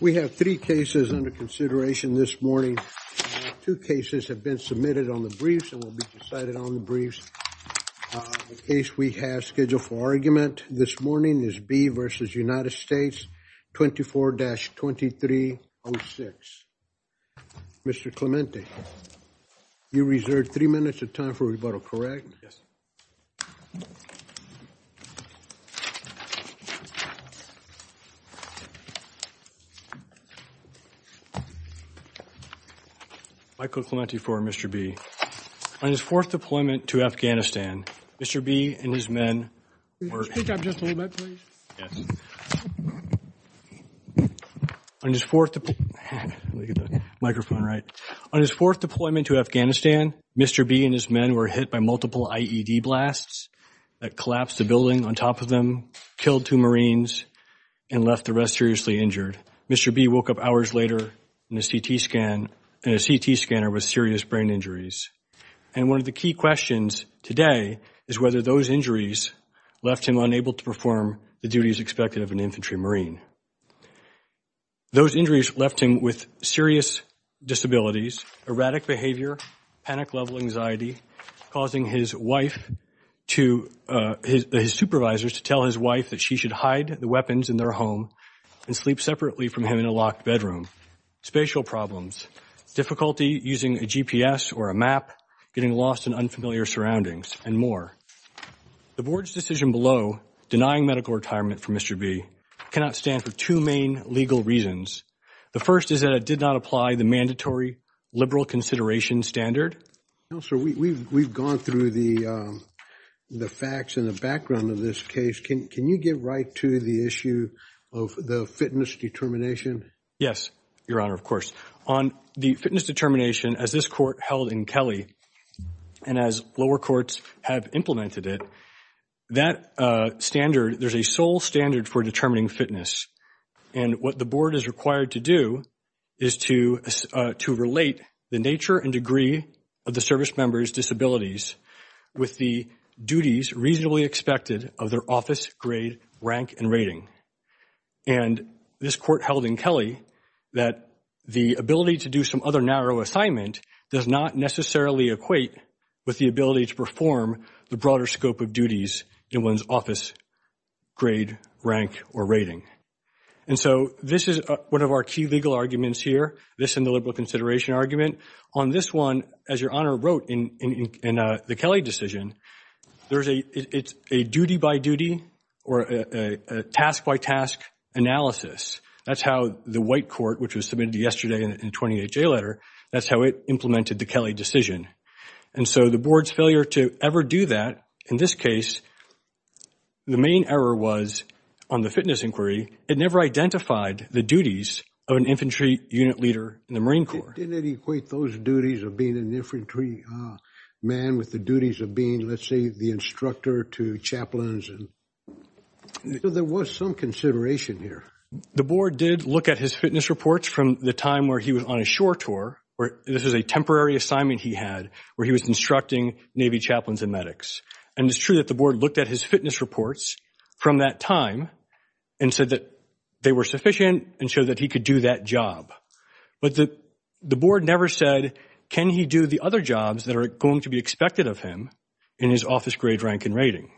We have three cases under consideration this morning. Two cases have been submitted on the briefs and will be decided on the briefs. The case we have scheduled for argument this morning is B v. United States 24-2306. Mr. Clemente, you reserved three minutes of time for rebuttal, correct? Yes. Michael Clemente for Mr. B. On his fourth deployment to Afghanistan, Mr. B and his men were hit by multiple IED blasts that collapsed the building on top of them, killed two Marines, and left the rest of the crew dead. Mr. B woke up hours later in a CT scanner with serious brain injuries. And one of the key questions today is whether those injuries left him unable to perform the duties expected of an infantry Marine. Those injuries left him with serious disabilities, erratic behavior, panic-level anxiety, causing his wife to, his supervisors to tell his wife that she should hide the weapons in their home and sleep separately from him in a locked bedroom, spatial problems, difficulty using a GPS or a map, getting lost in unfamiliar surroundings, and more. The board's decision below denying medical retirement for Mr. B cannot stand for two main legal reasons. The first is that it did not apply the mandatory liberal consideration standard. Counselor, we've gone through the facts and the background of this case. Can you get right to the issue of the fitness determination? Yes, Your Honor, of course. On the fitness determination, as this court held in Kelly, and as lower courts have implemented it, that standard, there's a sole standard for determining fitness. And what the board is required to do is to relate the nature and degree of the service member's disabilities with the duties reasonably expected of their office grade, rank, and rating. And this court held in Kelly that the ability to do some other narrow assignment does not necessarily equate with the ability to perform the broader scope of duties in one's office grade, rank, or rating. And so this is one of our key legal arguments here, this and the liberal consideration argument. On this one, as Your Honor wrote in the Kelly decision, it's a duty-by-duty or a task-by-task analysis. That's how the white court, which was submitted yesterday in the 28-J letter, that's how it implemented the Kelly decision. And so the board's failure to ever do that in this case, the main error was on the fitness inquiry, it never identified the duties of an infantry unit leader in the Marine Corps. It didn't equate those duties of being an infantry man with the duties of being, let's say, the instructor to chaplains. So there was some consideration here. The board did look at his fitness reports from the time where he was on a shore tour. This is a temporary assignment he had where he was instructing Navy chaplains and medics. And it's true that the board looked at his fitness reports from that time and said that they were sufficient and showed that he could do that job. But the board never said, can he do the other jobs that are going to be expected of him in his office grade rank and rating?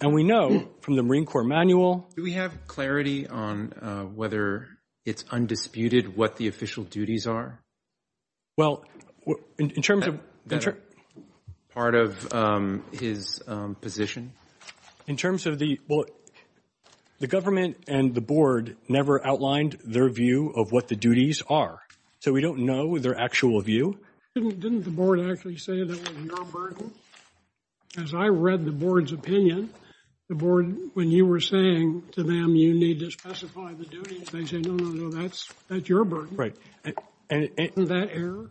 And we know from the Marine Corps manual. Do we have clarity on whether it's undisputed what the official duties are? Well, in terms of. Part of his position. In terms of the. The government and the board never outlined their view of what the duties are. So we don't know their actual view. Didn't the board actually say that? As I read the board's opinion, the board, when you were saying to them, you need to specify the duties. They said, no, no, no, no. That's that's your right. And that air.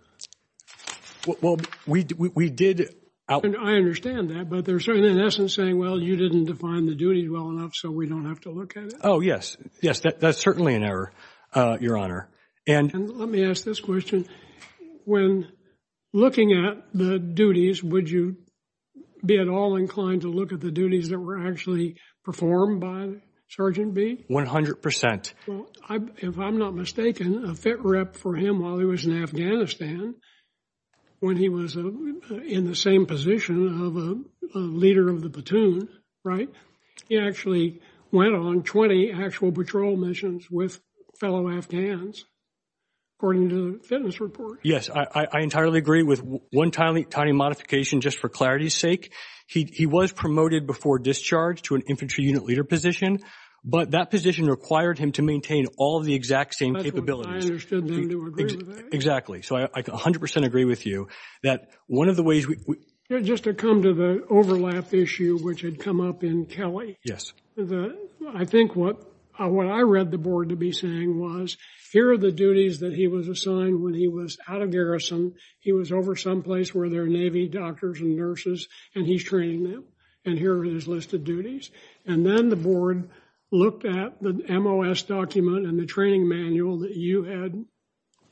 Well, we did. I understand that, but they're certainly in essence saying, well, you didn't define the duties well enough, so we don't have to look at it. Oh, yes. Yes, that's certainly an error, Your Honor. And let me ask this question. When looking at the duties, would you be at all inclined to look at the duties that were actually performed by Sergeant B? If I'm not mistaken, a fit rep for him while he was in Afghanistan. When he was in the same position of a leader of the platoon, right? He actually went on 20 actual patrol missions with fellow Afghans. According to the fitness report. Yes, I entirely agree with one tiny, tiny modification. Just for clarity's sake, he was promoted before discharge to an infantry unit leader position. But that position required him to maintain all the exact same capability. So I 100% agree with you that one of the ways just to come to the overlap issue, which had come up in Kelly. Yes, I think what I read the board to be saying was here are the duties that he was assigned when he was out of garrison. He was over someplace where there are Navy doctors and nurses, and he's training them. And here are his listed duties. And then the board looked at the M.O.S. document and the training manual that you had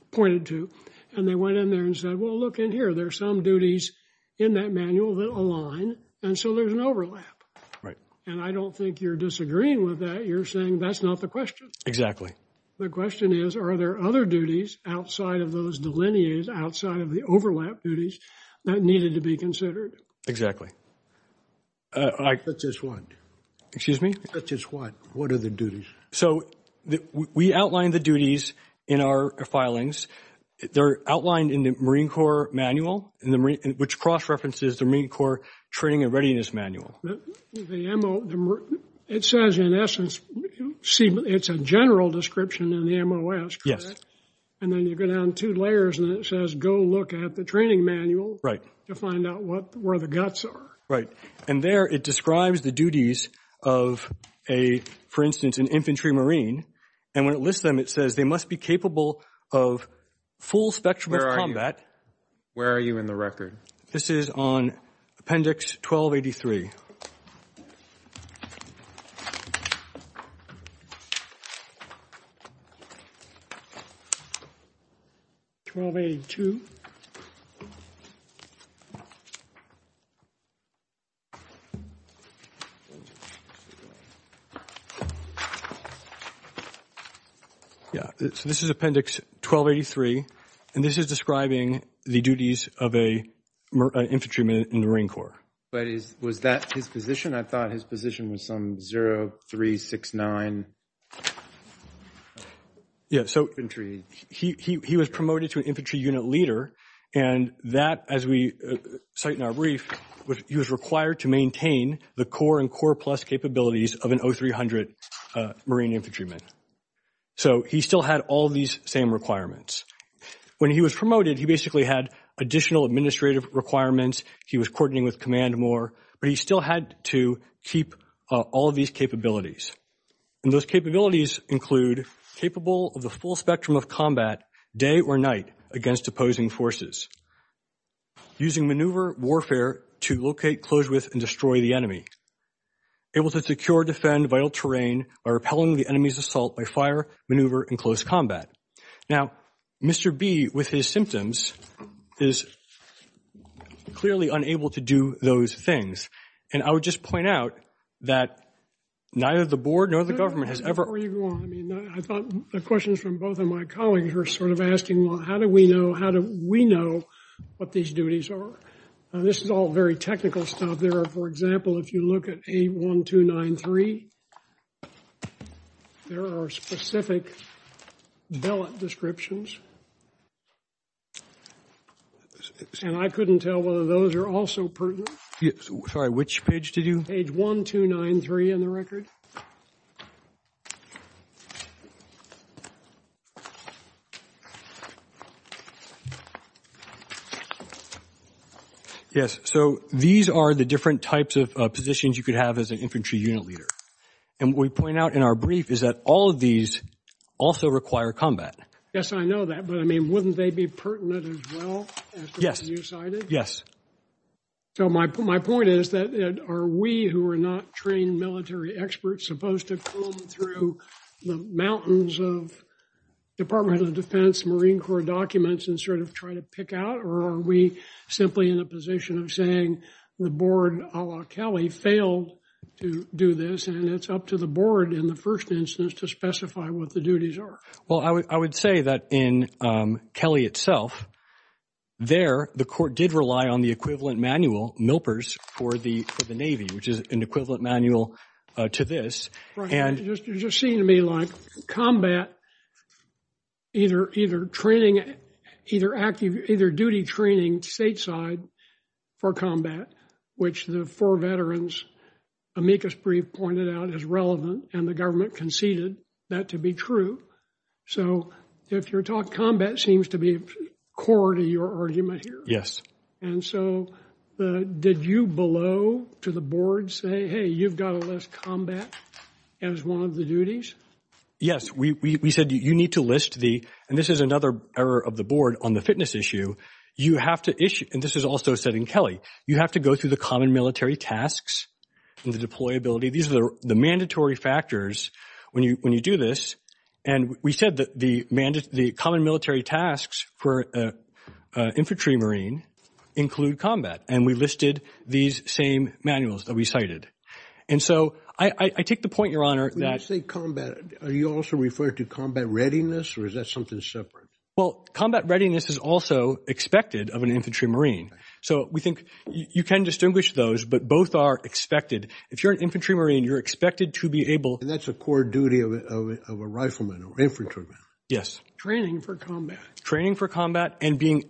pointed to. And they went in there and said, well, look in here. There are some duties in that manual that align. And so there's an overlap. Right. And I don't think you're disagreeing with that. You're saying that's not the question. The question is, are there other duties outside of those delineated outside of the overlap duties that needed to be considered? I just want to excuse me. That's just what what are the duties? So we outlined the duties in our filings. They're outlined in the Marine Corps manual, which cross-references the Marine Corps training and readiness manual. It says, in essence, it's a general description in the M.O.S. Yes. And then you go down two layers and it says, go look at the training manual. To find out where the guts are. Right. And there it describes the duties of a, for instance, an infantry Marine. And when it lists them, it says they must be capable of full-spectrum combat. Where are you in the record? This is on Appendix 1283. 1282. Yeah, this is Appendix 1283, and this is describing the duties of a infantryman in the Marine Corps. But was that his position? I thought his position was some 0369. Yeah, so he was promoted to infantry unit leader. And that, as we cite in our brief, he was required to maintain the core and core plus capabilities of an 0300 Marine infantryman. So he still had all these same requirements. When he was promoted, he basically had additional administrative requirements. He was coordinating with command more, but he still had to keep all of these capabilities. And those capabilities include capable of the full spectrum of combat, day or night, against opposing forces. Using maneuver warfare to locate, close with, and destroy the enemy. Able to secure, defend vital terrain by repelling the enemy's assault by fire, maneuver, and close combat. Now, Mr. B, with his symptoms, is clearly unable to do those things. And I would just point out that neither the board nor the government has ever... Before you go on, I thought the questions from both of my colleagues were sort of asking, well, how do we know, how do we know what these duties are? Now, this is all very technical stuff there. For example, if you look at 81293, there are specific ballot descriptions. And I couldn't tell whether those are also pertinent. Sorry, which page did you... Page 1293 in the record. Yes, so these are the different types of positions you could have as an infantry unit leader. And what we point out in our brief is that all of these also require combat. Yes, I know that, but I mean, wouldn't they be pertinent as well? Yes. Yes. So my point is that are we, who are not trained military experts, supposed to comb through the mountains of Department of Defense Marine Corps documents and sort of try to pick out? Or are we simply in a position of saying the board, a la Kelly, failed to do this, and it's up to the board in the first instance to specify what the duties are? Well, I would say that in Kelly itself, there, the court did rely on the equivalent manual milpers for the Navy, which is an equivalent manual to this. You just seem to me like combat, either training, either active, either duty training stateside for combat, which the four veterans amicus brief pointed out is relevant and the government conceded that to be true. So, if you're talking combat seems to be core to your argument here. Yes. And so, did you below to the board say, hey, you've got less combat as one of the duties. Yes, we said you need to list the, and this is another error of the board on the fitness issue. You have to issue, and this is also setting Kelly, you have to go through the common military tasks. These are the mandatory factors when you do this. And we said that the common military tasks for infantry marine include combat. And we listed these same manuals that we cited. And so, I take the point, your honor. When you say combat, are you also referring to combat readiness or is that something separate? Well, combat readiness is also expected of an infantry marine. So, we think you can distinguish those, but both are expected. If you're an infantry marine, you're expected to be able. And that's a core duty of a rifleman or infantryman. Yes. Training for combat. Training for combat and being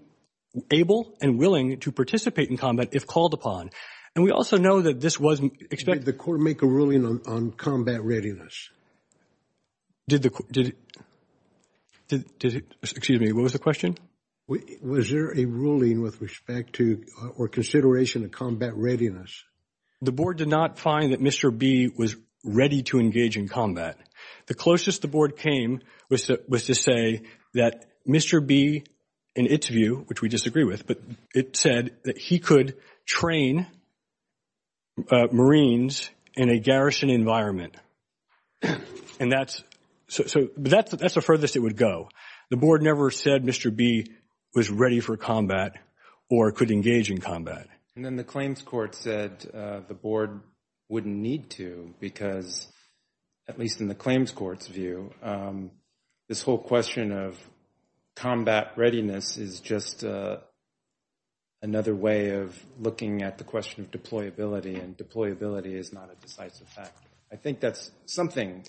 able and willing to participate in combat if called upon. And we also know that this wasn't expected. Did the court make a ruling on combat readiness? Did the, did it, did it, excuse me, what was the question? Was there a ruling with respect to or consideration of combat readiness? The board did not find that Mr. B was ready to engage in combat. The closest the board came was to say that Mr. B, in its view, which we disagree with, but it said that he could train marines in a garrison environment. And that's, so, that's the furthest it would go. The board never said Mr. B was ready for combat or could engage in combat. And then the claims court said the board wouldn't need to because, at least in the claims court's view, this whole question of combat readiness is just another way of looking at the question of deployability. And deployability is not a decisive fact. I think that's something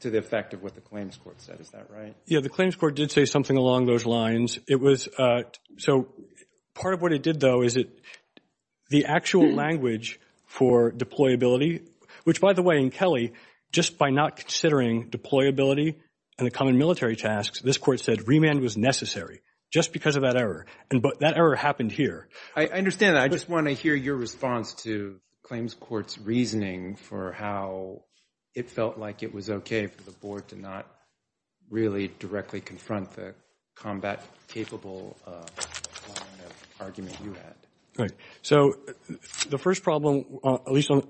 to the effect of what the claims court said. Is that right? Yeah, the claims court did say something along those lines. It was, so, part of what it did, though, is it, the actual language for deployability, which, by the way, in Kelly, just by not considering deployability and the common military tasks, this court said remand was necessary just because of that error. And that error happened here. I understand that. I just want to hear your response to claims court's reasoning for how it felt like it was okay for the board to not really directly confront the combat-capable line of argument you had. Right. So the first problem, at least on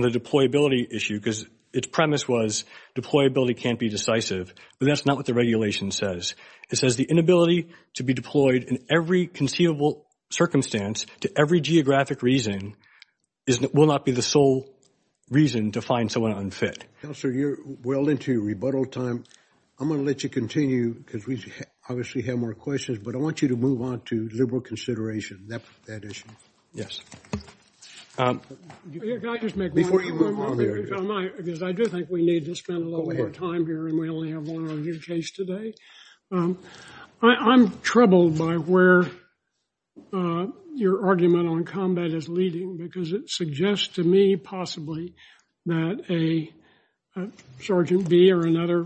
the deployability issue, because its premise was deployability can't be decisive, but that's not what the regulation says. It says the inability to be deployed in every conceivable circumstance to every geographic reason will not be the sole reason to find someone unfit. Counselor, you're well into your rebuttal time. I'm going to let you continue because we obviously have more questions, but I want you to move on to liberal consideration of that issue. Yes. Can I just make one more point? Because I do think we need to spend a little more time here, and we only have one on your case today. I'm troubled by where your argument on combat is leading because it suggests to me possibly that a Sergeant B or another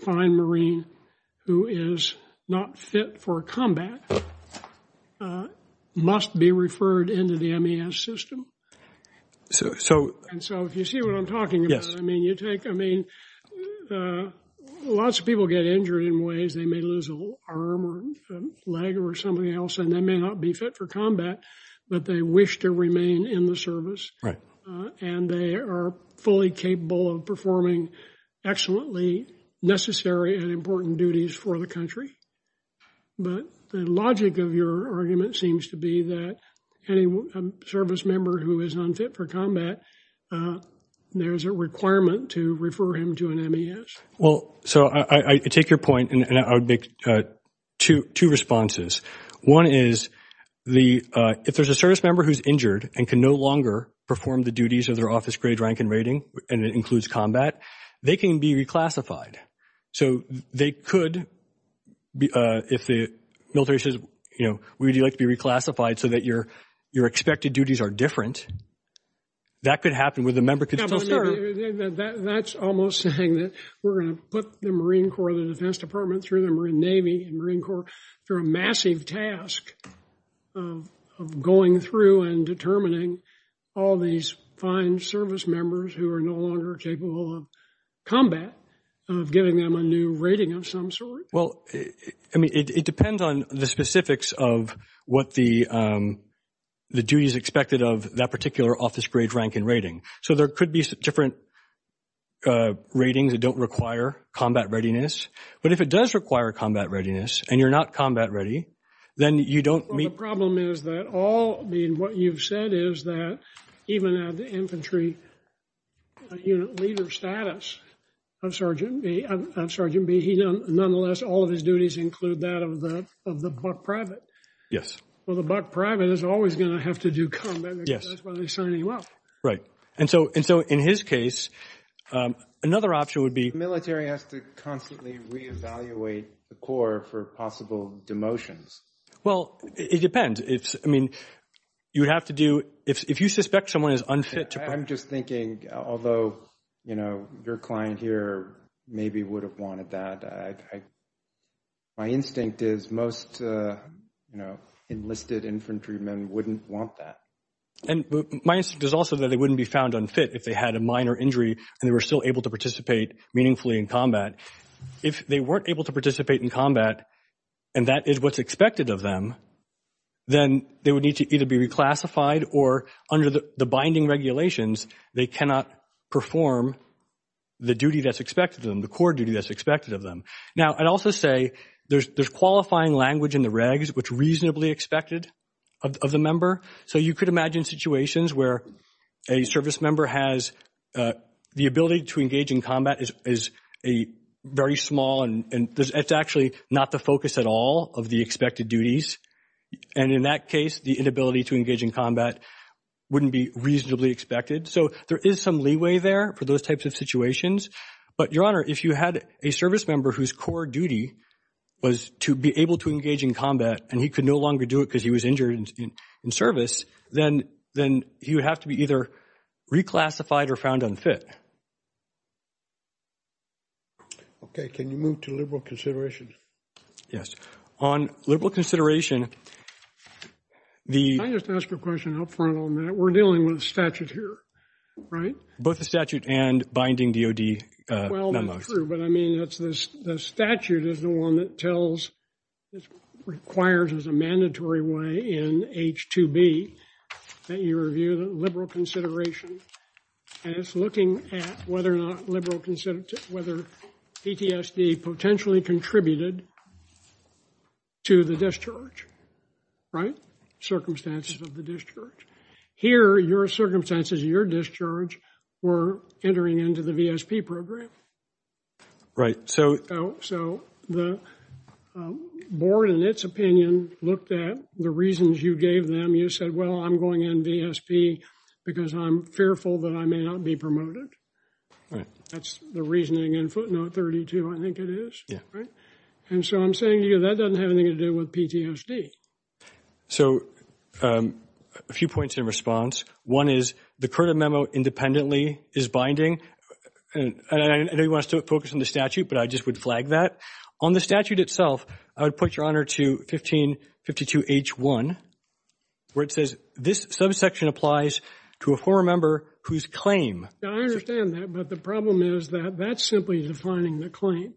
fine Marine who is not fit for combat must be referred into the MES system. And so if you see what I'm talking about, I mean, lots of people get injured in ways. They may lose an arm or a leg or something else, and they may not be fit for combat, but they wish to remain in the service, and they are fully capable of performing excellently necessary and important duties for the country. But the logic of your argument seems to be that any service member who is unfit for combat, there's a requirement to refer him to an MES. Well, so I take your point, and I would make two responses. One is if there's a service member who's injured and can no longer perform the duties of their office grade, rank, and rating, and it includes combat, they can be reclassified. So they could, if the military says, you know, would you like to be reclassified so that your expected duties are different, that could happen where the member could still serve. That's almost saying that we're going to put the Marine Corps, the Defense Department, through the Marine Navy and Marine Corps through a massive task of going through and determining all these fine service members who are no longer capable of combat, giving them a new rating of some sort. Well, I mean, it depends on the specifics of what the duties expected of that particular office grade, rank, and rating. So there could be different ratings that don't require combat readiness. But if it does require combat readiness and you're not combat ready, then you don't meet. Well, the problem is that all, I mean, what you've said is that even at the infantry unit leader status, Sergeant B, he nonetheless, all of his duties include that of the buck private. Yes. Well, the buck private is always going to have to do combat. Yes. That's why they sign you up. Right. And so in his case, another option would be. The military has to constantly reevaluate the Corps for possible demotions. Well, it depends. I mean, you would have to do, if you suspect someone is unfit. I'm just thinking, although, you know, your client here maybe would have wanted that. My instinct is most, you know, enlisted infantrymen wouldn't want that. And my instinct is also that they wouldn't be found unfit if they had a minor injury and they were still able to participate meaningfully in combat. If they weren't able to participate in combat and that is what's expected of them, then they would need to either be reclassified or under the binding regulations, they cannot perform the duty that's expected of them, the Corps duty that's expected of them. Now, I'd also say there's qualifying language in the regs which reasonably expected of the member. So you could imagine situations where a service member has the ability to engage in combat is very small and it's actually not the focus at all of the expected duties. And in that case, the inability to engage in combat wouldn't be reasonably expected. So there is some leeway there for those types of situations. But, Your Honor, if you had a service member whose Corps duty was to be able to engage in combat and he could no longer do it because he was injured in service, then he would have to be either reclassified or found unfit. Okay. Can you move to liberal consideration? Yes. On liberal consideration, the – Can I just ask a question for a moment? We're dealing with statute here, right? Both the statute and binding DOD memo. Well, that's true, but I mean it's the statute is the one that tells – requires as a mandatory way in H-2B that you review the liberal consideration and it's looking at whether or not liberal – whether PTSD potentially contributed to the discharge, right, circumstances of the discharge. Here, your circumstances of your discharge were entering into the VSP program. Right. So – So the board, in its opinion, looked at the reasons you gave them. You said, well, I'm going in VSP because I'm fearful that I may not be promoted. That's the reasoning in footnote 32, I think it is, right? And so I'm saying to you that doesn't have anything to do with PTSD. So a few points in response. One is the current memo independently is binding. And I know you want us to focus on the statute, but I just would flag that. On the statute itself, I would put your honor to 1552 H-1, where it says this subsection applies to a former member whose claim – I understand that, but the problem is that that's simply defining the claim.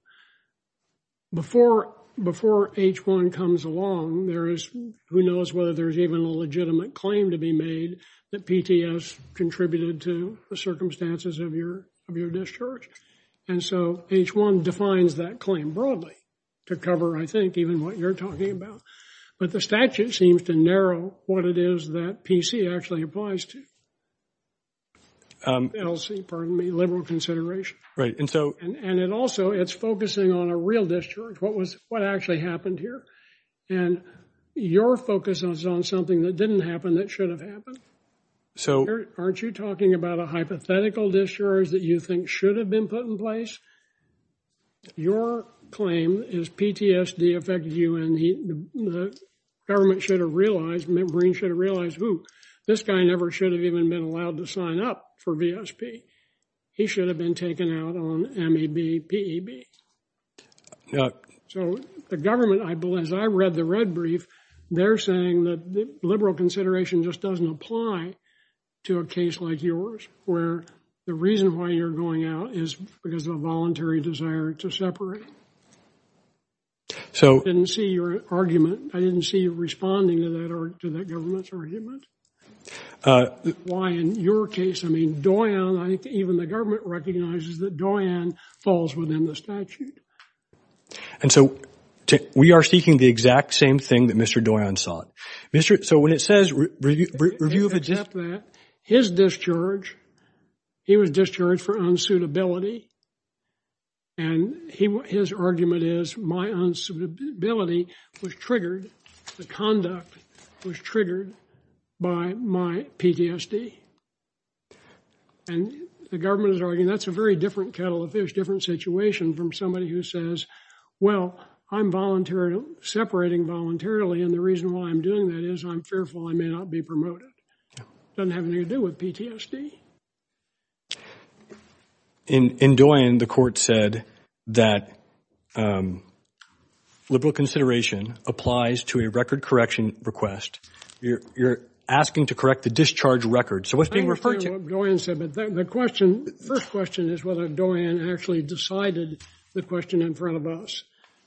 Before H-1 comes along, there is – who knows whether there's even a legitimate claim to be made that PTSD contributed to the circumstances of your discharge. And so H-1 defines that claim broadly to cover, I think, even what you're talking about. But the statute seems to narrow what it is that PC actually applies to – LC, pardon me, liberal consideration. Right. And so – You're focusing on a real discharge, what actually happened here. And your focus is on something that didn't happen that should have happened. So aren't you talking about a hypothetical discharge that you think should have been put in place? Your claim is PTSD affected you, and the government should have realized – Memory should have realized, ooh, this guy never should have even been allowed to sign up for VSP. He should have been taken out on M-A-B-P-E-B. Yep. So the government, I believe, as I read the red brief, they're saying that liberal consideration just doesn't apply to a case like yours, where the reason why you're going out is because of a voluntary desire to separate. So – I didn't see your argument. I didn't see you responding to that government's argument. Why, in your case, I mean, Doyon, even the government recognizes that Doyon falls within the statute. And so we are seeking the exact same thing that Mr. Doyon sought. So when it says review of a death mat, his discharge, he was discharged for unsuitability, and his argument is my unsuitability was triggered, the conduct was triggered by my PTSD. And the government is arguing that's a very different kettle of fish, different situation from somebody who says, well, I'm voluntary – separating voluntarily, and the reason why I'm doing that is I'm fearful I may not be promoted. Doesn't have anything to do with PTSD. In Doyon, the court said that liberal consideration applies to a record correction request. You're asking to correct the discharge record. So what's being referred to – I understand what Doyon said, but the question – the first question is whether Doyon actually decided the question in front of us,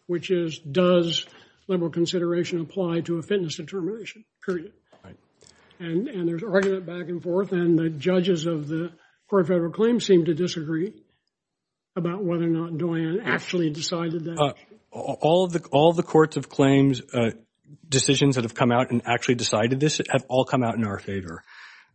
which is does liberal consideration apply to a fitness determination? And there's argument back and forth, and the judges of the court-favored claim seem to disagree about whether or not Doyon actually decided that. All the courts of claims decisions that have come out and actually decided this have all come out in our favor.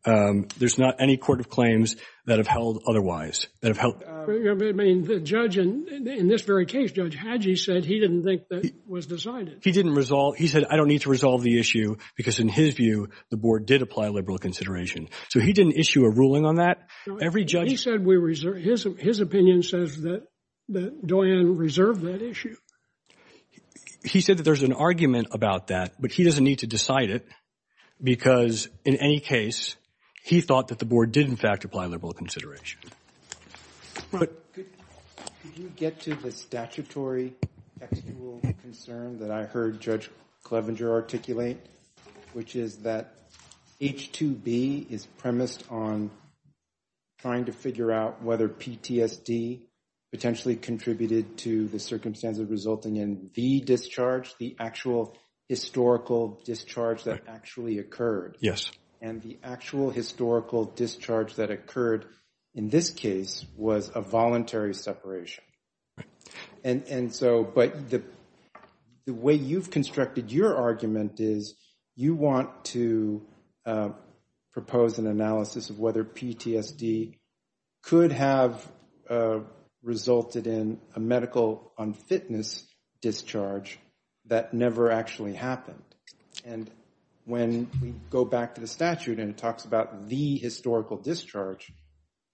There's not any court of claims that have held otherwise, that have held – I mean, the judge in this very case, Judge Hagee, said he didn't think that was decided. He didn't resolve – he said, I don't need to resolve the issue, because in his view, the board did apply liberal consideration. So he didn't issue a ruling on that. Every judge – He said we – his opinion says that Doyon reserved that issue. He said that there's an argument about that, but he doesn't need to decide it because, in any case, he thought that the board did, in fact, apply liberal consideration. But did you get to the statutory rule of concern that I heard Judge Clevenger articulate, which is that H-2B is premised on trying to figure out whether PTSD potentially contributed to the circumstances resulting in the discharge, the actual historical discharge that actually occurred. Yes. And the actual historical discharge that occurred in this case was a voluntary separation. And so – but the way you've constructed your argument is you want to propose an analysis of whether PTSD could have resulted in a medical unfitness discharge that never actually happened. And when we go back to the statute and it talks about the historical discharge,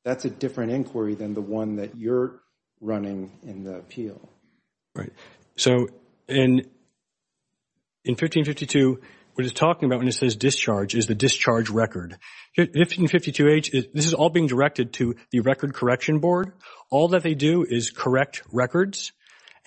that's a different inquiry than the one that you're running in the appeal. So in 1552, what it's talking about when it says discharge is the discharge record. In 1552H, this is all being directed to the Record Correction Board. All that they do is correct records.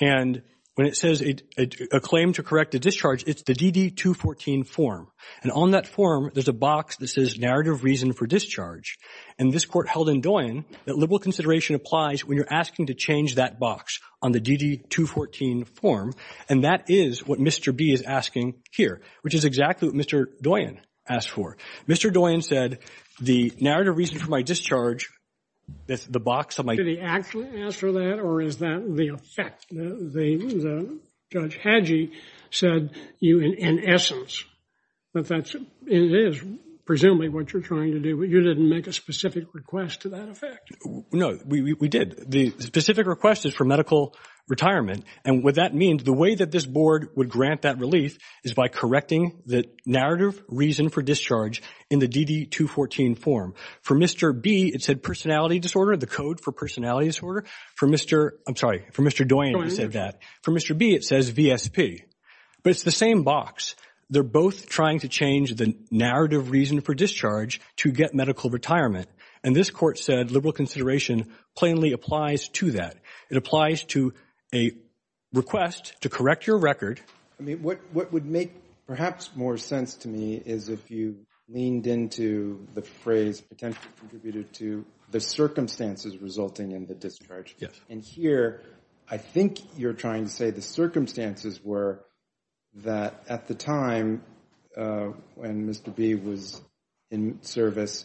And when it says a claim to correct the discharge, it's the DD-214 form. And on that form, there's a box that says narrative reason for discharge. And this court held in Doyon that liberal consideration applies when you're asking to change that box on the DD-214 form. And that is what Mr. B is asking here, which is exactly what Mr. Doyon asked for. Mr. Doyon said, the narrative reason for my discharge, that's the box of my discharge. Did he actually answer that, or is that the effect? Judge Hagee said, in essence, that that is presumably what you're trying to do. You didn't make a specific request to that effect. No, we did. The specific request is for medical retirement. And what that means, the way that this board would grant that relief is by correcting the narrative reason for discharge in the DD-214 form. For Mr. B, it said personality disorder, the code for personality disorder. For Mr. Doyon, it said that. For Mr. B, it says VSP. But it's the same box. They're both trying to change the narrative reason for discharge to get medical retirement. And this court said liberal consideration plainly applies to that. It applies to a request to correct your record. What would make perhaps more sense to me is if you leaned into the phrase potentially contributed to the circumstances resulting in the discharge. And here I think you're trying to say the circumstances were that at the time when Mr. B was in service,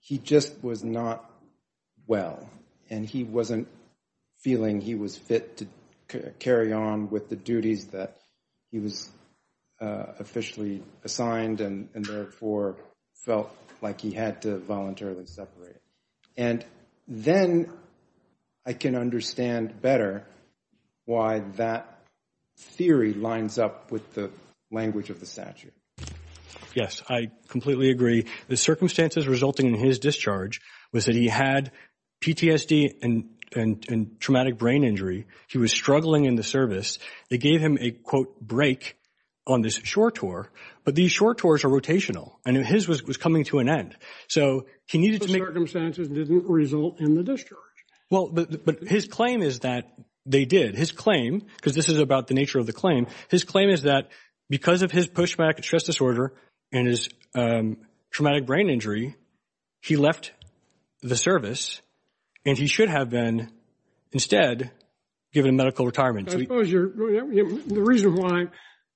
he just was not well. And he wasn't feeling he was fit to carry on with the duties that he was officially assigned, and therefore felt like he had to voluntarily separate. And then I can understand better why that theory lines up with the language of the statute. Yes, I completely agree. The circumstances resulting in his discharge was that he had PTSD and traumatic brain injury. He was struggling in the service. It gave him a, quote, break on this short tour. But these short tours are rotational. And his was coming to an end. So he needed to make… The circumstances didn't result in the discharge. Well, but his claim is that they did. His claim, because this is about the nature of the claim, his claim is that because of his post-traumatic stress disorder and his traumatic brain injury, he left the service, and he should have been instead given medical retirement. I suppose the reason why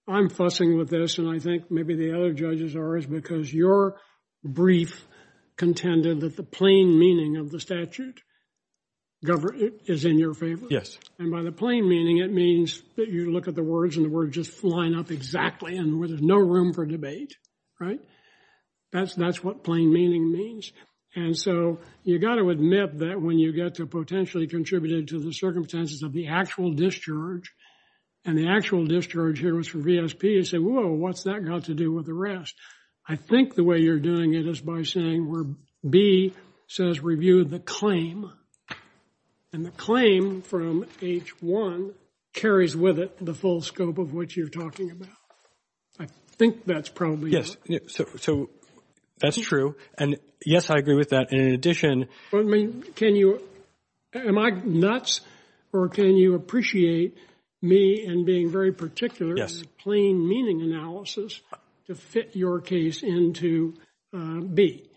I'm fussing with this, and I think maybe the other judges are, is because your brief contended that the plain meaning of the statute is in your favor. And by the plain meaning, it means that you look at the words and the words just line up exactly and where there's no room for debate, right? That's what plain meaning means. And so you've got to admit that when you get to potentially contributed to the circumstances of the actual discharge, and the actual discharge here was from VSP, you say, whoa, what's that got to do with the rest? I think the way you're doing it is by saying where B says review the claim, and the claim from H1 carries with it the full scope of what you're talking about. I think that's probably. So that's true. And yes, I agree with that. In addition. I mean, can you, am I nuts? Or can you appreciate me and being very particular plain meaning analysis to fit your case into B?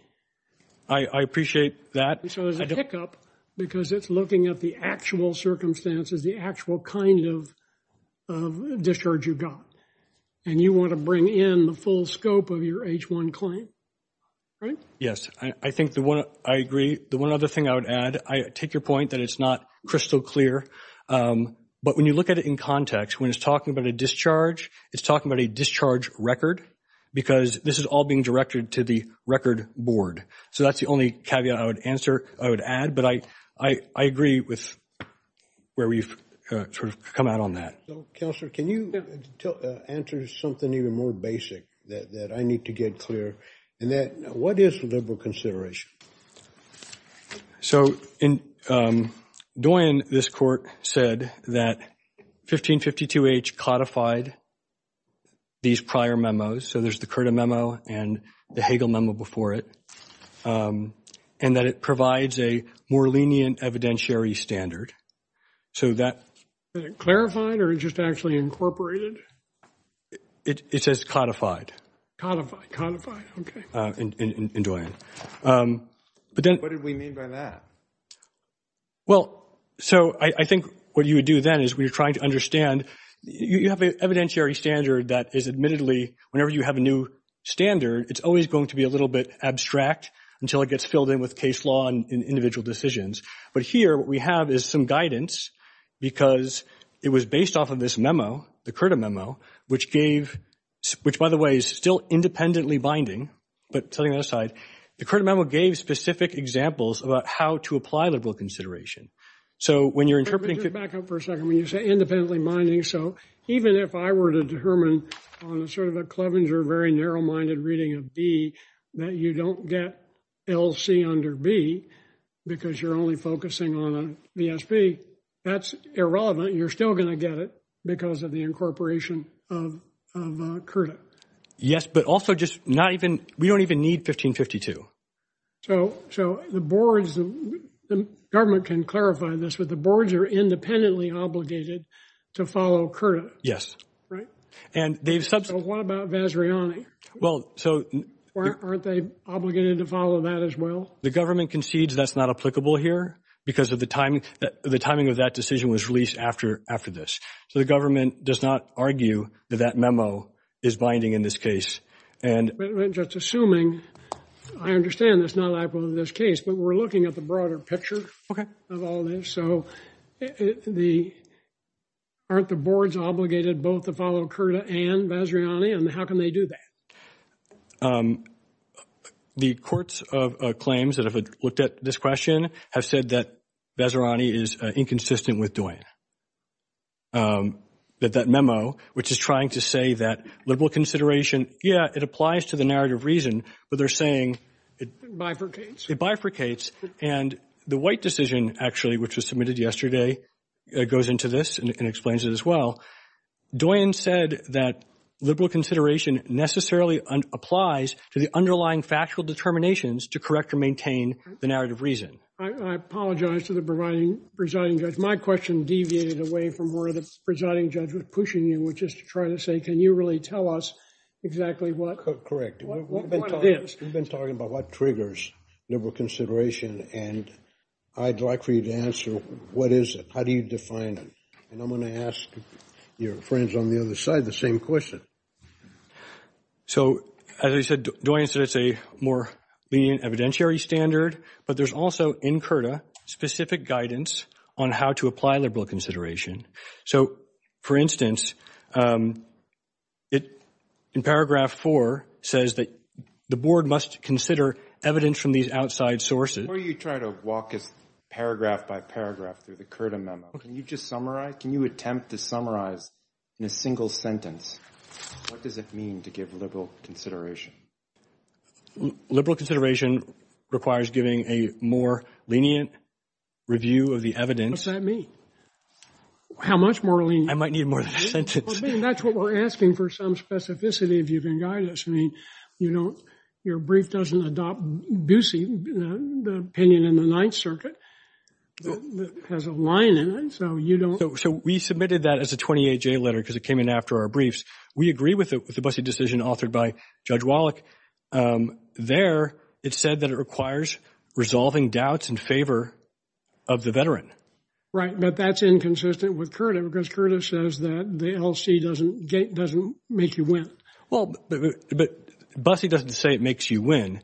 I appreciate that. Because it's looking at the actual circumstances, the actual kind of discharge you've got. And you want to bring in the full scope of your H1 claim. Right? Yes. I think the one, I agree. The one other thing I would add, I take your point that it's not crystal clear, but when you look at it in context, when it's talking about a discharge, it's talking about a discharge record because this is all being directed to the record board. So that's the only caveat I would answer, I would add. But I agree with where we've sort of come out on that. Counselor, can you answer something even more basic that I need to get clear? And that, what is the liberal consideration? So, Dwayne, this court said that 1552H codified these prior memos. So there's the Curta memo and the Hagel memo before it. And that it provides a more lenient evidentiary standard. So that. Is it clarified or is it just actually incorporated? It says codified. Dwayne. What did we mean by that? Well, so I think what you would do then is we're trying to understand, you have an evidentiary standard that is admittedly, whenever you have a new standard, it's always going to be a little bit abstract until it gets filled in with case law and individual decisions. But here, what we have is some guidance because it was based off of this memo, the Curta memo, which gave, which by the way, is still independently binding. But to the other side, the Curta memo gave specific examples about how to apply liberal consideration. So when you're interpreting. Back up for a second. When you say independently binding. So even if I were to determine on a sort of a clubbing or a very narrow minded reading of D that you don't get. It'll see under B. Because you're only focusing on BSP. That's irrelevant. You're still going to get it because of the incorporation. Yes, but also just not even, we don't even need 1552. So, so the boards. The government can clarify this, but the boards are independently obligated to follow Curta. Right. And they've said, well, aren't they obligated to follow that as well? The government concedes that's not applicable here because of the timing, the timing of that decision was released after, after this. So the government does not argue that that memo is binding in this case. And just assuming I understand. Again, that's not applicable to this case, but we're looking at the broader picture of all this. So the, aren't the boards obligated both to follow Curta and Vazirani and how can they do that? The courts of claims that have looked at this question have said that Vazirani is inconsistent with doing that, that memo, which is trying to say that liberal consideration. Yeah, it applies to the narrative reason, but they're saying, it bifurcates and the white decision actually, which was submitted yesterday, it goes into this and explains it as well. Doyin said that liberal consideration necessarily applies to the underlying factual determinations to correct or maintain the narrative reason. I apologize to the presiding judge. My question deviated away from where the presiding judge was pushing you, which is to try to say, can you really tell us exactly what. Correct. We've been talking about what triggers liberal consideration and I'd like for you to answer, what is it? How do you define it? And I'm going to ask your friends on the other side, the same question. So as I said, Doyin said it's a more lenient evidentiary standard, but there's also in Curta specific guidance on how to apply liberal consideration. So for instance, it in paragraph four says that the board must consider evidence from these outside sources. Or you try to walk it paragraph by paragraph through the Curta memo. Can you just summarize, can you attempt to summarize in a single sentence? What does it mean to give liberal consideration? Liberal consideration requires giving a more lenient review of the evidence. What does that mean? How much more lenient? I might need more than a sentence. That's what we're asking for some specificity if you can guide us. I mean, you don't, your brief doesn't adopt Goosey, the opinion in the ninth circuit has a line in it. So you don't. So we submitted that as a 28-J letter because it came in after our briefs. We agree with the Bussey decision authored by Judge Wallach. There it said that it requires resolving doubts in favor of the veteran. Right. But that's inconsistent with Curta because Curta says that the LC doesn't, doesn't make you win. Well, but Bussey doesn't say it makes you win.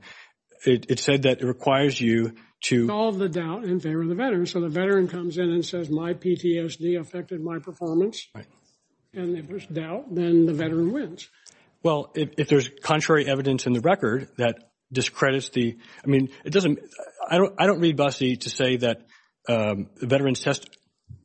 It said that it requires you to. Solve the doubt in favor of the veteran. So the veteran comes in and says my PTSD affected my performance. And if there's doubt, then the veteran wins. Well, if there's contrary evidence in the record that discredits the, I mean, it doesn't, I don't, I don't read Bussey to say that veterans test.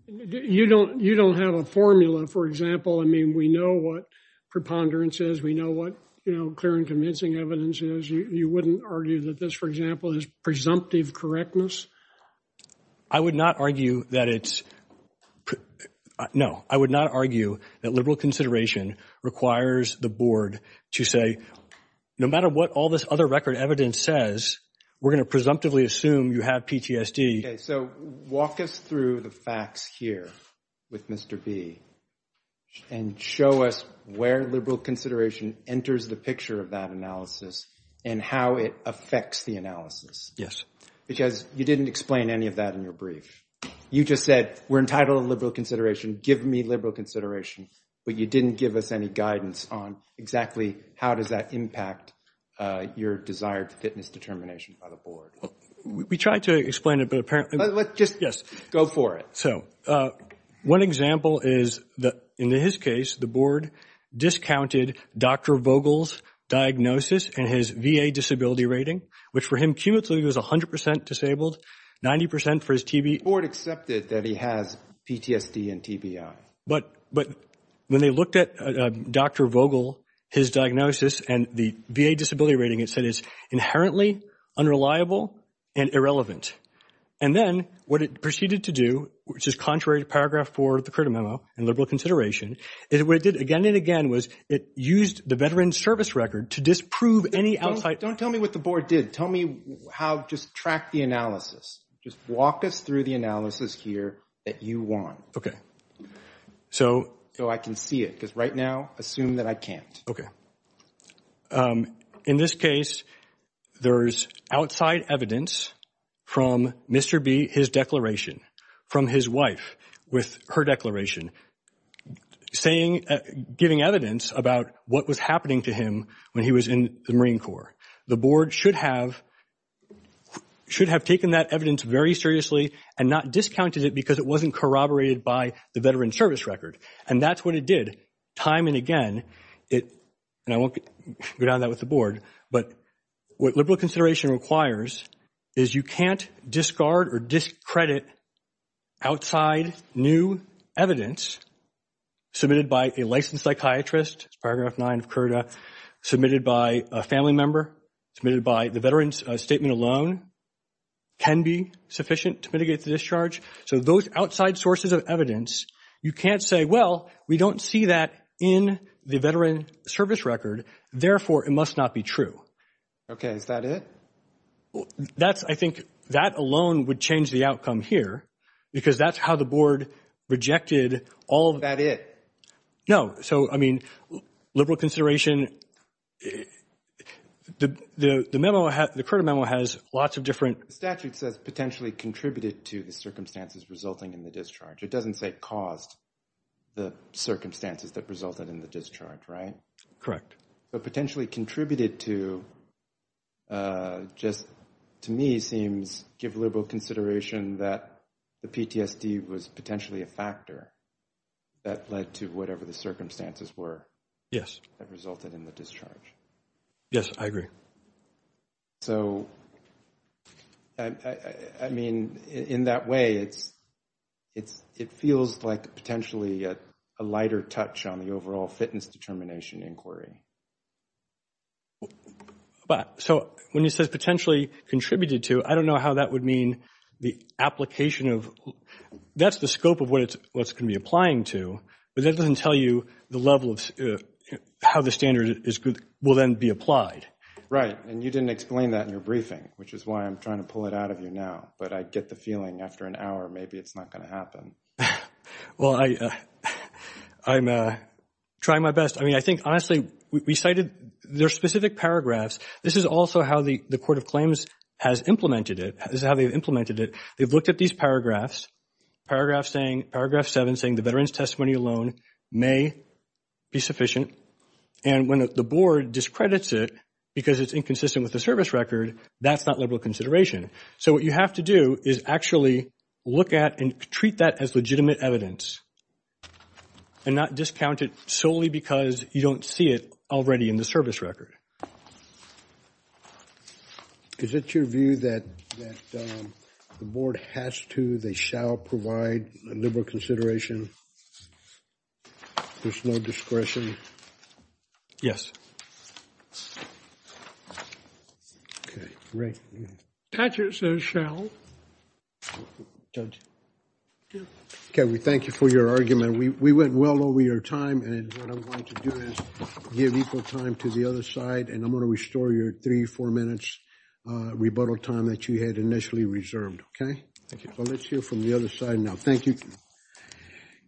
You don't, you don't have a formula, for example. I mean, we know what preponderance is. We know what, you know, clear and convincing evidence is. You, you wouldn't argue that this for example is presumptive correctness. I would not argue that it's no, I would not argue that liberal consideration requires the board to say, no matter what all this other record evidence says, we're going to presumptively assume you have PTSD. So walk us through the facts here with Mr. B and show us where liberal consideration enters the picture of that analysis and how it affects the analysis. Yes. Because you didn't explain any of that in your brief. You just said we're entitled to liberal consideration. Give me liberal consideration, but you didn't give us any guidance on exactly how does that impact your desired fitness determination by the board? We tried to explain it, but apparently let's just go for it. So one example is that in his case, the board discounted Dr. Vogel's diagnosis and his VA disability rating, which for him, he was a hundred percent disabled, 90% for his TB. The board accepted that he has PTSD and TBI, but, but when they looked at Dr. Vogel, his diagnosis and the VA disability rating, it said, it's inherently unreliable and irrelevant. And then what it proceeded to do, which is contrary to paragraph four of the credit memo and liberal consideration is what it did again and again was it used the veteran service record to disprove any outside. Don't tell me what the board did. Tell me how just track the analysis. Just walk us through the analysis here that you want. Okay. So I can see it because right now assume that I can't. Okay. In this case, there's outside evidence from Mr. B, his declaration from his wife with her declaration saying, giving evidence about what was happening to him when he was in the Marine Corps, the board should have, should have taken that evidence very seriously and not discounted it because it wasn't corroborated by the veteran service record. And that's what it did. Time. And again, it, and I won't go down that with the board, but what liberal consideration requires is you can't discard or discredit outside new evidence submitted by a licensed psychiatrist, paragraph nine of Curta submitted by a family member submitted by the veterans statement alone can be sufficient to mitigate the discharge. So those outside sources of evidence, you can't say, well, we don't see that in the veteran service record. Therefore, it must not be true. Okay. Is that it? Well, that's, I think that alone would change the outcome here because that's how the board rejected all of that is no. So, I mean, liberal consideration, the, the, the memo, the current memo has lots of different statutes that potentially contributed to the circumstances resulting in the discharge. It doesn't say caused the circumstances that resulted in the discharge, right? Correct. So potentially contributed to just to me seems give liberal consideration that the PTSD was potentially a factor that led to whatever the circumstances were. Yes. That resulted in the discharge. Yes, I agree. So I mean, in that way, it's, it feels like potentially a lighter touch on the overall fitness determination inquiry, but so when you say potentially contributed to, I don't know how that would mean the application of that's the scope of what it's, what's going to be applying to, but that doesn't tell you the level of, how the standard is will then be applied. Right. And you didn't explain that in your briefing, which is why I'm trying to pull it out of you now, but I get the feeling after an hour, maybe it's not going to happen. Well, I, I'm trying my best. I mean, I think honestly, we cited their specific paragraphs. This is also how the court of claims has implemented it. This is how they've implemented it. They've looked at these paragraphs, paragraphs saying paragraph seven saying the veteran's testimony alone may be And when the board discredits it because it's inconsistent with the service record, that's not liberal consideration. So what you have to do is actually look at and treat that as legitimate evidence and not discounted solely because you don't see it already in the Is it your view that the board has to, they shall provide a liberal consideration? There's no discretion. Yes. Okay. Great. Okay. We thank you for your argument. We went well over your time. And what I'm going to do is give equal time to the other side and I'm going to restore your three, four minutes rebuttal time that you had initially reserved. Okay. I'll let you from the other side now. Thank you.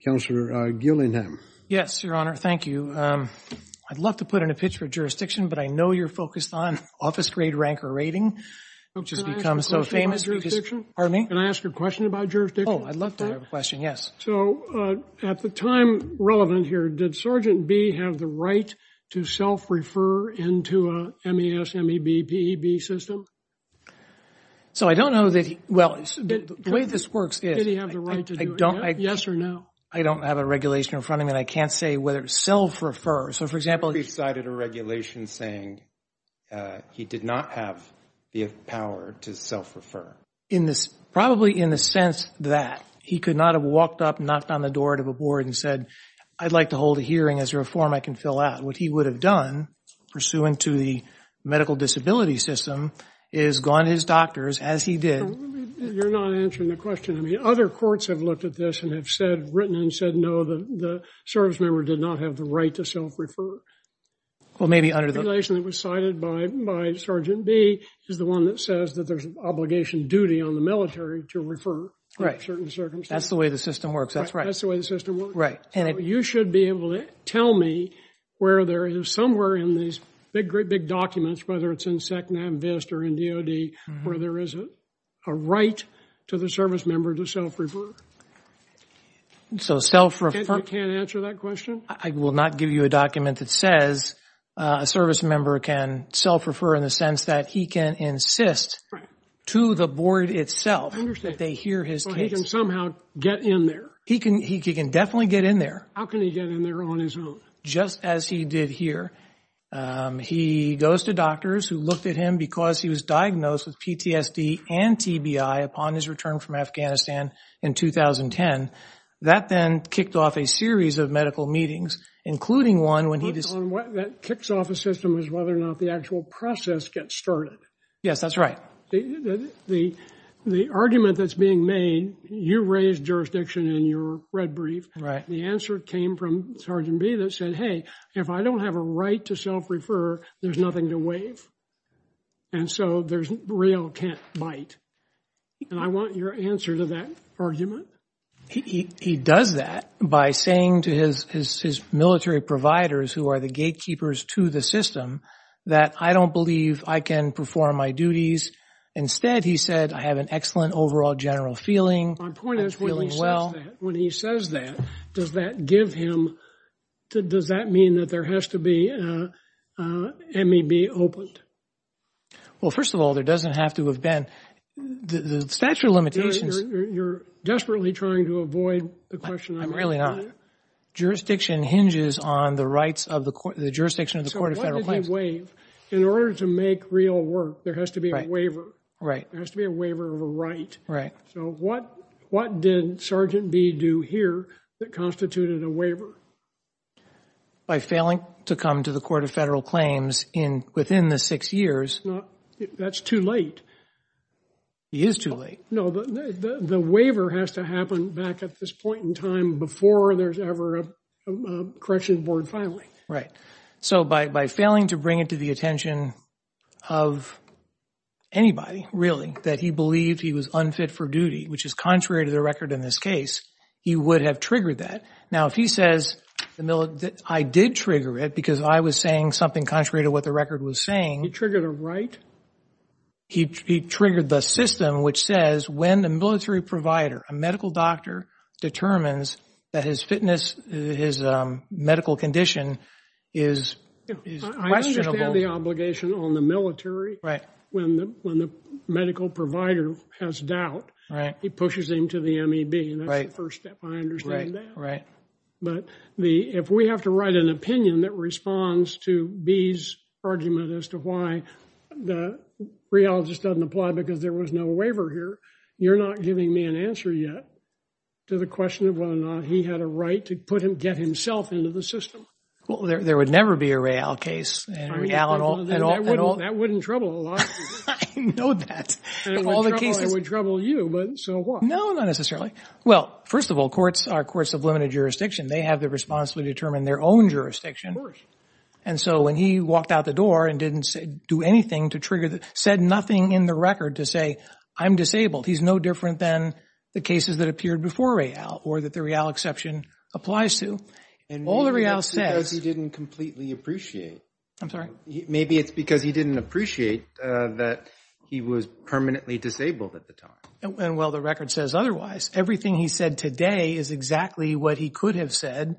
Counselor Gillingham. Yes, Your Honor. Thank you. I'd love to put in a pitch for jurisdiction, but I know you're focused on office grade rank or rating. I've just become so famous. Pardon me. Can I ask a question about jurisdiction? Oh, I'd love to have a question. Yes. So at the time relevant here, did Sergeant B have the right to self-refer into a MES, MEB, PEB system? So I don't know that. Well, the way this works is. Did he have the right to do it? Yes or no? I don't have a regulation in front of me. I can't say whether it's self-refer. So for example, He cited a regulation saying he did not have the power to self-refer. Probably in the sense that he could not have walked up, knocked on the door to the board and said, I'd like to hold a hearing as a reform. I can fill out. What he would have done pursuant to the medical disability system is gone. His doctors, as he did. You're not answering the question. I mean, other courts have looked at this and have said written and said, no, the service member did not have the right to self-refer. Well, maybe under the regulation that was cited by Sergeant B is the one that says that there's an obligation duty on the military to refer. Right. That's the way the system works. That's right. That's the way the system works. Right. And you should be able to tell me where there is somewhere in these big, great big documents, whether it's in SEC, NAMVIST or in DOD, where there isn't a right to the service member to self-refer. So self-refer. Can't answer that question. I will not give you a document that says a service member can self-refer in the sense that he can insist to the board itself that they hear his opinion. So he can somehow get in there. He can, he can definitely get in there. How can he get in there on his own? Just as he did here. He goes to doctors who looked at him because he was diagnosed with PTSD and TBI upon his return from Afghanistan in 2010. That then kicked off a series of medical meetings, including one. What kicks off a system is whether or not the actual process gets started. Yes, that's right. The argument that's being made, you raised jurisdiction in your red brief. The answer came from Sergeant B that said, Hey, if I don't have a right to self-refer, there's nothing to waive. And so there's real can't bite. And I want your answer to that argument. He does that by saying to his, his military providers who are the gatekeepers to the system that I don't believe I can perform my duties. Instead, he said, I have an excellent overall general feeling. When he says that, does that give him, does that mean that there has to be a MEB opened? Well, first of all, there doesn't have to have been the statute of limitations. You're desperately trying to avoid the question. I'm really not. Jurisdiction hinges on the rights of the court, jurisdiction of the court of federal claims. In order to make real work, there has to be a waiver. Right. There has to be a waiver of a right. Right. So what, what did Sergeant B do here that constituted a waiver? By failing to come to the court of federal claims in within the six years. That's too late. He is too late. No, the, the, the waiver has to happen back at this point in time before there's ever a correction board filing. Right. So by, by failing to bring it to the attention of anybody, really, that he believed he was unfit for duty, which is contrary to the record in this case, he would have triggered that. Now, if he says, I did trigger it because I was saying something contrary to what the record was saying. He triggered a right? He triggered the system, which says when the military provider, a medical doctor determines that his fitness, his medical condition, is questionable. I understand the obligation on the military. Right. When the, when the medical provider has doubt, he pushes into the MEB and that's the first step. I understand that. Right. But the, if we have to write an opinion that responds to B's argument as to why the rheologist doesn't apply because there was no waiver here, you're not giving me an answer yet to the question of whether or not he had a right to put him, get himself into the system. Well, there, there would never be a rail case. That wouldn't trouble. It would trouble you, but so what? No, not necessarily. Well, first of all, courts are courts of limited jurisdiction. They have the responsibility to determine their own jurisdiction. And so when he walked out the door and didn't say do anything to trigger that said nothing in the record to say, I'm disabled, he's no different than the cases that appeared before real or that the real exception applies to and all the real estate. He didn't completely appreciate it. I'm sorry. Maybe it's because he didn't appreciate that he was permanently disabled at the time. And while the record says otherwise, everything he said today is exactly what he could have said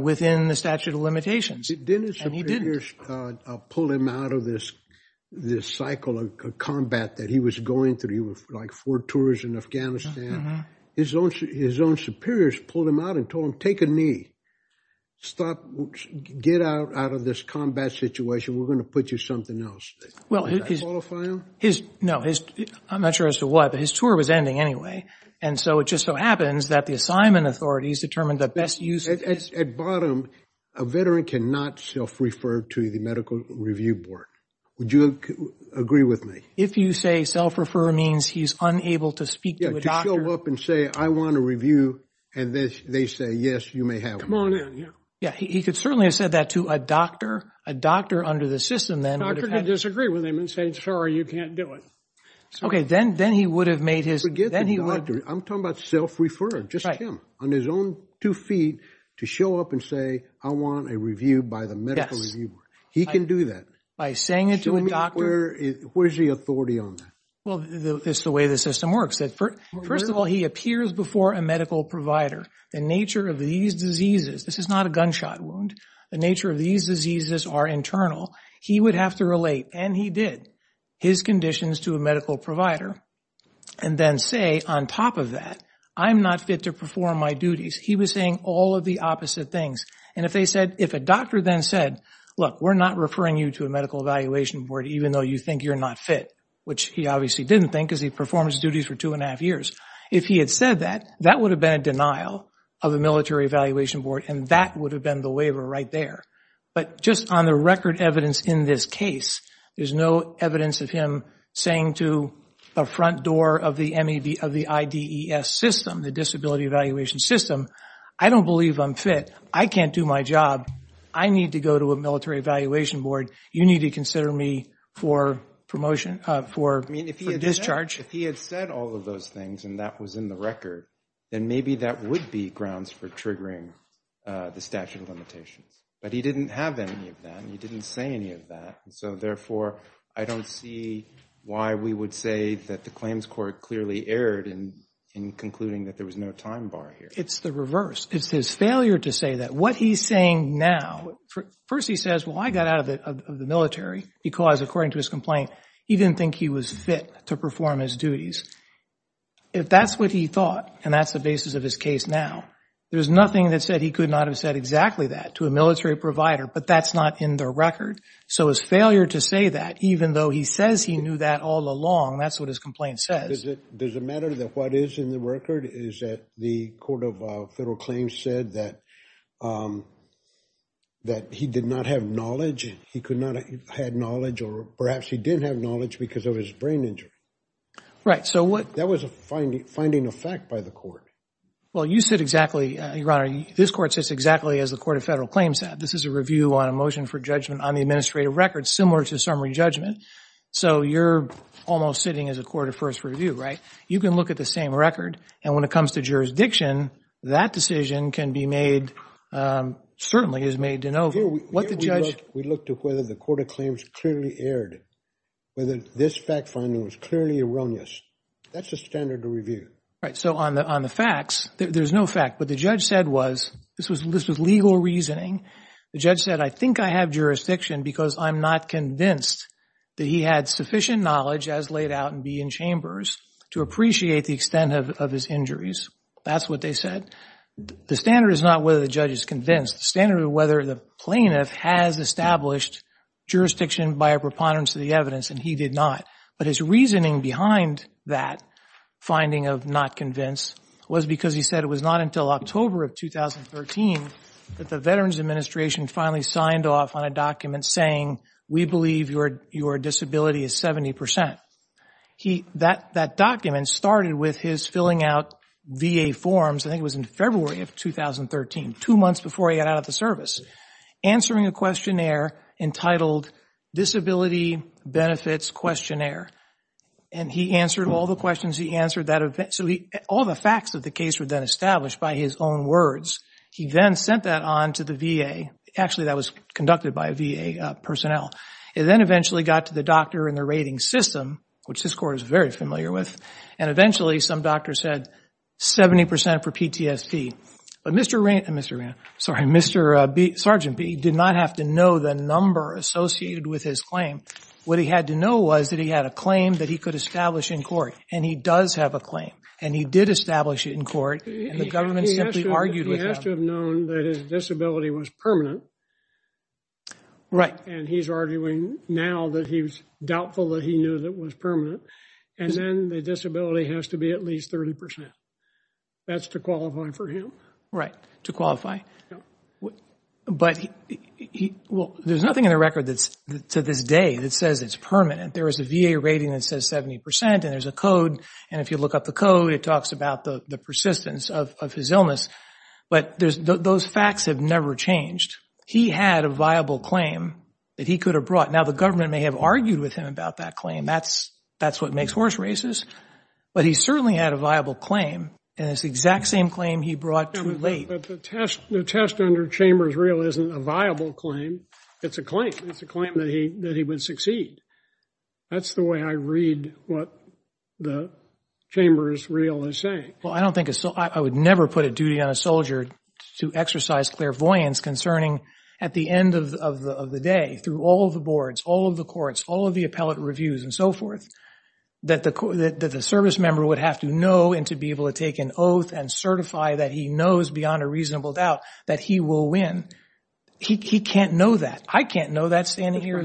within the statute of limitations. I'll pull him out of this, this cycle of combat that he was going through. He was like four tours in Afghanistan, his own, his own superiors pulled him out and told him, take a knee, stop, get out out of this combat situation. We're going to put you something else. Well, his, his, no, his, I'm not sure as to what, but his tour was ending anyway. And so it just so happens that the assignment authorities determined the best use at bottom, a veteran can not self refer to the medical review board. Would you agree with me? If you say self refer, self refer means he's unable to speak to the doctor and say, I want to review. And then they say, yes, you may have. Yeah. He could certainly have said that to a doctor, a doctor under the system that I disagree with him and say, sorry, you can't do it. Okay. Then, then he would have made his, I'm talking about self-referred just on his own two feet to show up and say, I want a review by the medical review. He can do that. By saying it to a doctor, where's the authority on that? Well, this is the way the system works. But first of all, he appears before a medical provider and nature of these diseases. This is not a gunshot wound. The nature of these diseases are internal. He would have to relate. And he did his conditions to a medical provider. And then say, on top of that, I'm not fit to perform my duties. He was saying all of the opposite things. And if they said, if a doctor then said, look, we're not referring you to a medical evaluation board, even though you think you're not fit, which he obviously didn't think is he performs duties for two and a half years. If he had said that, that would have been a denial of a military evaluation board. And that would have been the waiver right there. But just on the record evidence in this case, there's no evidence of him saying to a front door of the MED of the ID ES system, the disability evaluation system. I don't believe I'm fit. I can't do my job. I need to go to a military evaluation board. You need to consider me for promotion for discharge. If he had said all of those things and that was in the record, then maybe that would be grounds for triggering the statute of limitations, but he didn't have any of that. And he didn't say any of that. And so therefore I don't see why we would say that the claims court clearly erred in, in concluding that there was no time bar here. It's the reverse. It's his failure to say that what he's saying now, first he says, well, I got out of the military because according to his complaint, he didn't think he was fit to perform his duties. If that's what he thought, and that's the basis of his case. Now, there's nothing that said he could not have said exactly that to a military provider, but that's not in the record. So his failure to say that, even though he says he knew that all along, that's what his complaint says. Does it, does it matter that what is in the record is that the court of federal claims said that, um, that he did not have knowledge. He could not have had knowledge or perhaps he didn't have knowledge because of his brain injury. Right. So what that was a finding, finding a fact by the court. Well, you said exactly. This court sits exactly as the court of federal claims said, this is a review on a motion for judgment on the administrative records, similar to summary judgment. So you're almost sitting as a court of first review, right? You can look at the same record. And when it comes to jurisdiction, that decision can be made. Um, certainly is made to know what the judge. We looked at whether the court of claims clearly aired, whether this fact finding was clearly erroneous. That's a standard to review. Right. So on the, on the facts, there's no fact, but the judge said was, this was, this is legal reasoning. The judge said, I think I have jurisdiction because I'm not convinced that he had sufficient knowledge as laid out and be in chambers to appreciate the extent of, of his injuries. That's what they said. The standard is not whether the judge is convinced standard, whether the plaintiff has established jurisdiction by a preponderance of the evidence. And he did not. But his reasoning behind that finding of not convinced was because he said it was not until October of 2013 that the veterans administration finally saw and signed off on a document saying, we believe your, your disability is 70%. He, that, that document started with his filling out VA forms. I think it was in February of 2013, two months before he got out of the service answering a questionnaire entitled disability benefits questionnaire. And he answered all the questions he answered that eventually all the facts of the case were then established by his own words. He then sent that on to the VA. Actually, that was conducted by a VA personnel and then eventually got to the doctor in the rating system, which this court is very familiar with. And eventually some doctors said 70% for PTSD, but Mr. Rand, Mr. Sorry, Mr. Sergeant B did not have to know the number associated with his claim. What he had to know was that he had a claim that he could establish in court and he does have a claim and he did establish it in court. He has to have known that his disability was permanent. Right. And he's arguing now that he was doubtful that he knew that was permanent. And then the disability has to be at least 30%. That's to qualify for him. Right. To qualify. But he, he, well, there's nothing in the record that's to this day that says it's permanent. There was a VA rating that says 70% and there's a code. And if you look up the code, it talks about the persistence of his illness, but there's those facts have never changed. He had a viable claim that he could have brought. Now the government may have argued with him about that claim. That's, that's what makes horse races, but he certainly had a viable claim. And it's the exact same claim he brought. The test under Chambers real isn't a viable claim. It's a claim. It's a claim that he, that he would succeed. That's the way I read what the Chambers real is saying. Well, I don't think it's so, I would never put a duty on a soldier to exercise clairvoyance concerning at the end of the day, through all of the boards, all of the courts, all of the appellate reviews and so forth, that the court that the service member would have to know and to be able to take an oath and certify that he knows beyond a reasonable doubt that he will win. He can't know that. I can't know that standing here.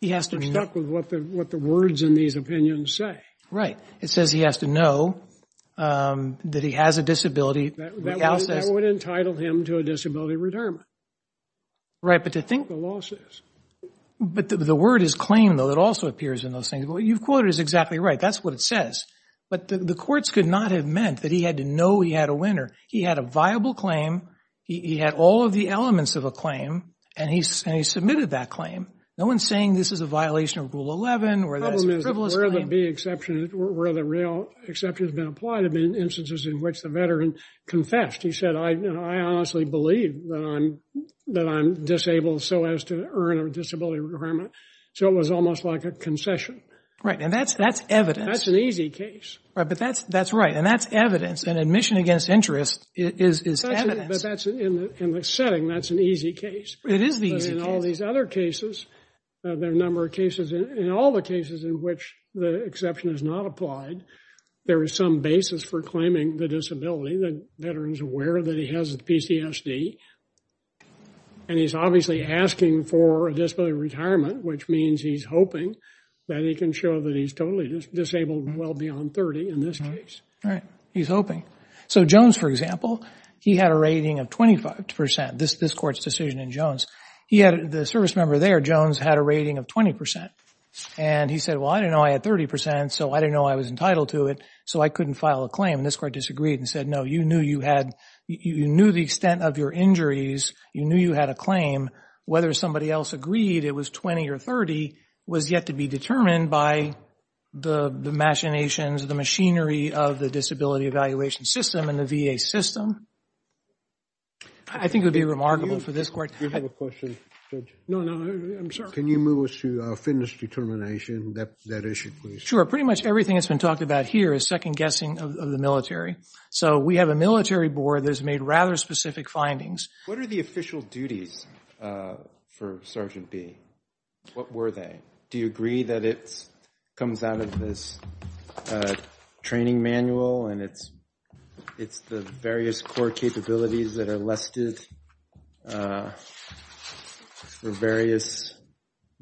He has to be stuck with what the, what the words in these opinions say. Right. It says he has to know that he has a disability. That would entitle him to a disability retirement. Right. But to think the losses, but the word is claim though. It also appears in those things. Well, you've quoted is exactly right. That's what it says, but the courts could not have meant that he had to know he had a winner. He had a viable claim. He had all of the elements of a claim. And he said he submitted that claim. No one's saying this is a violation of rule 11 or where the real exception has been applied to be in instances in which the veteran confessed. He said, I, I honestly believe that I'm disabled. So as to earn a disability requirement. So it was almost like a concession. Right. And that's, that's evidence. That's an easy case. Right. But that's, that's right. And that's evidence. And admission against interest is, but that's in the setting. That's an easy case. All these other cases, there are a number of cases in all the cases in which the exception is not applied. There is some basis for claiming the disability. The veterans aware that he has a PCSD. And he's obviously asking for a disability retirement, which means he's hoping that he can show that he's totally disabled and well beyond 30 in this case. Right. He's hoping. So Jones, for example, he had a rating of 25% this, this court's decision in Jones. He had, the service member there, Jones had a rating of 20% and he said, well, I didn't know I had 30%. So I didn't know I was entitled to it. So I couldn't file a claim. This court disagreed and said, no, you knew you had, you knew the extent of your injuries. You knew you had a claim, whether somebody else agreed, it was 20 or 30 was yet to be determined by the machinations, the machinery of the disability evaluation system and the VA system. I think it would be remarkable for this court. Can you move us to our fitness determination that, that issue? Sure. Pretty much everything that's been talked about here is second guessing of the military. So we have a military board that has made rather specific findings. What are the official duties for Sergeant B? What were they? Do you agree that it comes out of this training manual and it's, it's the various core capabilities that are listed various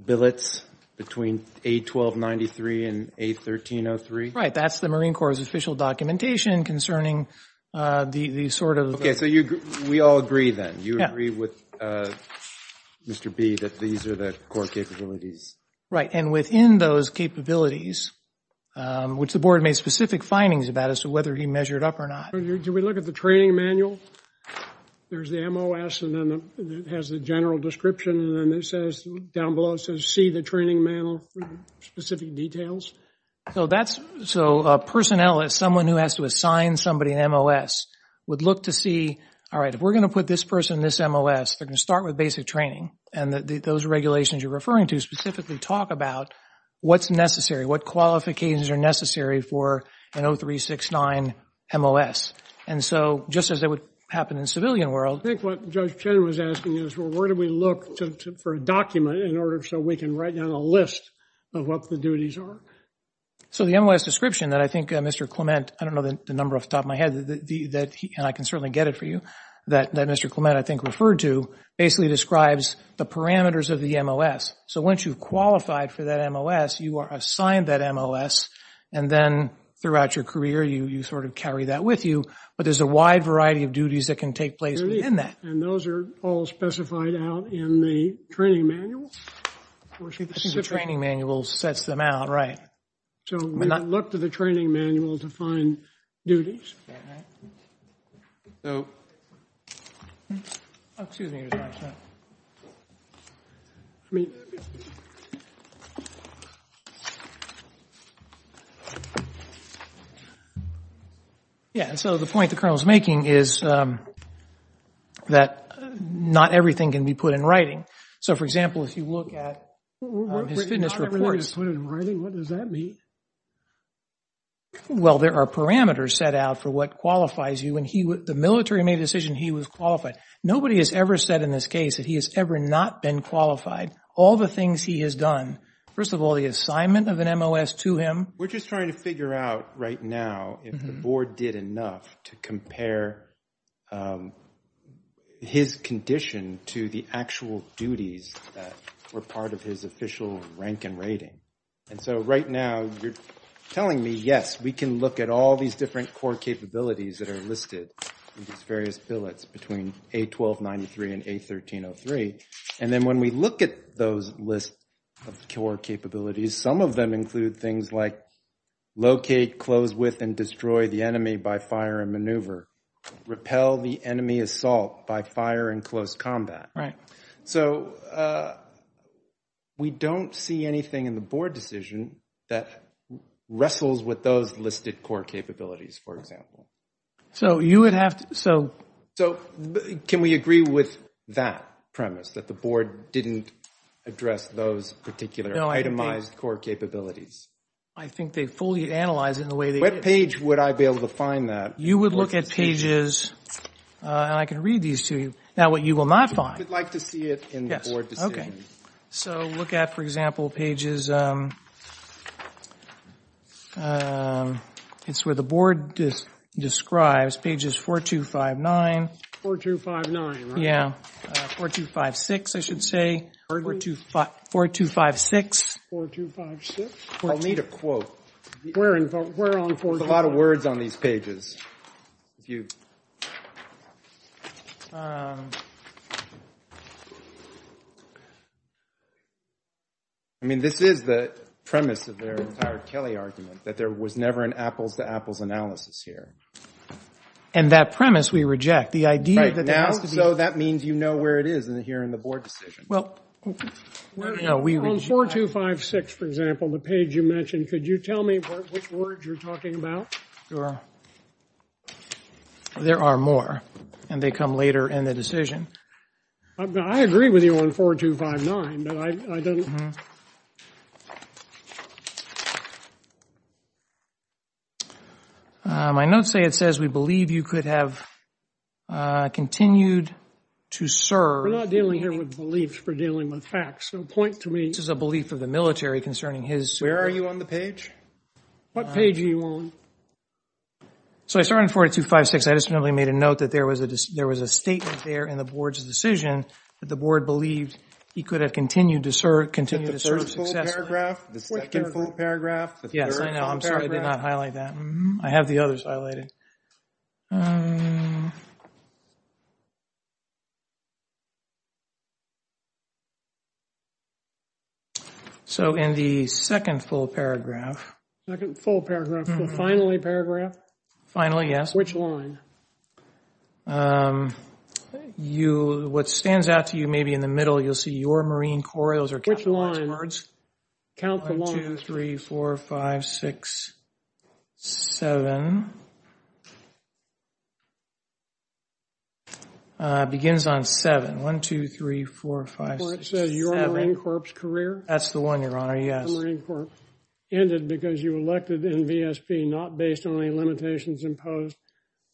billets between a 1293 and a 1303. That's the Marine Corps official documentation concerning the sort of, we all agree that you agree with Mr. B that these are the core capabilities Right. And within those capabilities, which the board made specific findings about as to whether he measured up or not. Do we look at the training manual? There's the MOS and then it has the general description. And then it says down below, it says, see the training manual specific details. So that's, so a personnel is someone who has to assign somebody an MOS would look to see, all right, if we're going to put this person, this MOS, they're going to start with basic training and that those regulations you're talking about, what's necessary, what qualifications are necessary for an 0369 MOS. And so just as it would happen in civilian world, I think what judge Ken was asking is, well, where do we look for a document in order? So we can write down a list of what the duties are. So the MOS description that I think Mr. Clement, I don't know the number off the top of my head that he, and I can certainly get it for you that Mr. Clement, I think referred to basically describes the parameters of the MOS. So once you've qualified for that MOS, you are assigned that MOS and then throughout your career, you sort of carry that with you, but there's a wide variety of duties that can take place within that. And those are all specified out in the training manual. The training manual sets them out. Right. So we look to the training manual to find duties. So. Yeah. So the point the colonel is making is that not everything can be put in writing. So for example, if you look at fitness reports. What does that mean? Well, there are parameters set out for what qualifies you and the military made the decision he was qualified. Nobody has ever said in this case that he has ever not been qualified. All the things he has done. First of all, the assignment of an MOS to him. We're just trying to figure out right now if the board did enough to compare his condition to the actual duties that were part of his official rank and rating. And so right now you're telling me, yes, we can look at all these different core capabilities that are listed in these various billets between A1293 and A1303. And then when we look at those lists of core capabilities, some of them include things like locate, close with and destroy the enemy by fire and maneuver, repel the enemy assault by fire and close combat. So we don't see anything in the board decision that wrestles with those listed core capabilities, for example. So can we agree with that premise that the board didn't address those particular itemized core capabilities? I think they fully analyze it the way they are. What page would I be able to find that? You would look at pages and I can read these to you. Now what you will not find. I would like to see it in the board decision. Yes, okay. So look at, for example, pages... It's where the board describes pages 4259. 4259, right? Yeah. 4256, I should say. 4256. 4256? I'll need a quote. We're on 4256. There's a lot of words on these pages. I mean, this is the premise of their entire Kelly argument that there was never an apples-to-apples analysis here. And that premise we reject. The idea that... So that means you know where it is here in the board decision. Well... On 4256, for example, the page you mentioned, could you tell me which words you're talking about? There are more and they come later in the decision. I agree with you on 4259, but I don't... My notes say it says, we believe you could have continued to serve... We're not dealing here with beliefs. We're dealing with facts. So point to me... This is a belief of the military concerning his... Where are you on the page? What page are you on? So I started on 4256. I just randomly made a note that there was a statement there in the board's decision that the board believed he could have continued to serve successfully. The second full paragraph? Yes, I know. I'm sorry I did not highlight that. I have the others highlighted. So in the second full paragraph... The second full paragraph. The finally paragraph? Finally, yes. Which one? You, what stands out to you, maybe in the middle, you'll see your Marine Corps... Which line? Count the lines. One, two, three, four, five, six, seven. Begins on seven. One, two, three, four, five, six, seven. So your Marine Corps career? That's the one, Your Honor, yes. Ended because you were elected in VSP, not based on any limitations imposed.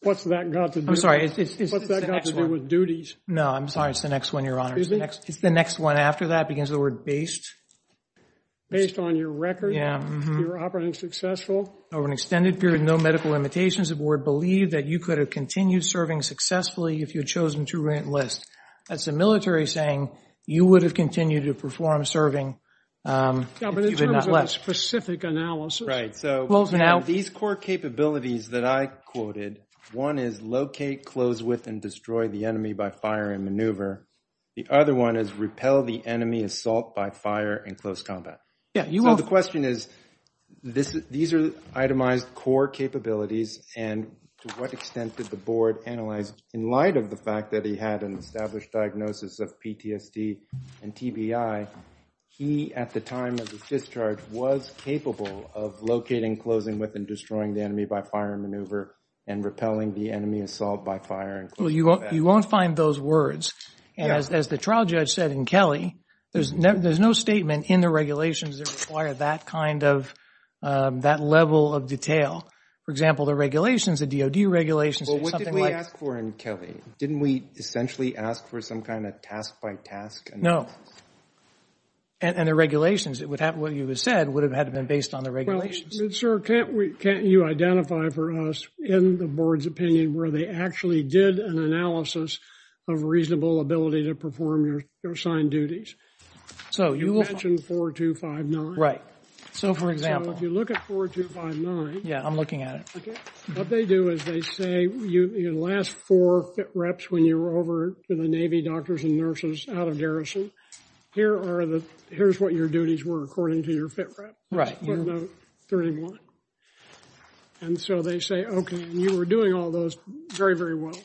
I'm sorry, it's the next one. No, I'm sorry, it's the next one, Your Honor. It's the next one after that, begins the word based. Based on your record? Yeah. You were operating successful? Over an extended period, no medical limitations. The board believed that you could have continued serving successfully if you had chosen to enlist. That's the military saying you would have continued to perform serving. Yeah, but in terms of a specific analysis... Right. These core capabilities that I quoted, one is locate, close with, and destroy the enemy by fire and maneuver. The other one is repel the enemy, assault by fire, and close combat. Yeah, you will... The question is, these are itemized core capabilities, and to what extent did the board analyze, in light of the fact that he had an established diagnosis of PTSD and TBI, he, at the time of his discharge, was capable of locating, closing with, and destroying the enemy by fire and maneuver, and repelling the enemy, assault by fire, and close combat? Well, you won't find those words. As the trial judge said in Kelly, there's no statement in the regulations that require that kind of, that level of detail. For example, the regulations, the DOD regulations... Well, what did we ask for in Kelly? Didn't we essentially ask for some kind of task by task? No. And the regulations, what you just said, would have had to have been based on the regulations? Sir, can't you identify for us, in the board's opinion, where they actually did an analysis of reasonable ability to perform your assigned duties? So, you mentioned 4259. Right. So, for example, if you look at 4259... Yeah, I'm looking at it. What they do is they say, in the last four reps when you were over to the Navy doctors and nurses out of garrison, here are the... Here's what your duties were according to your fit rep. Right. And so they say, okay, you were doing all those very, very well.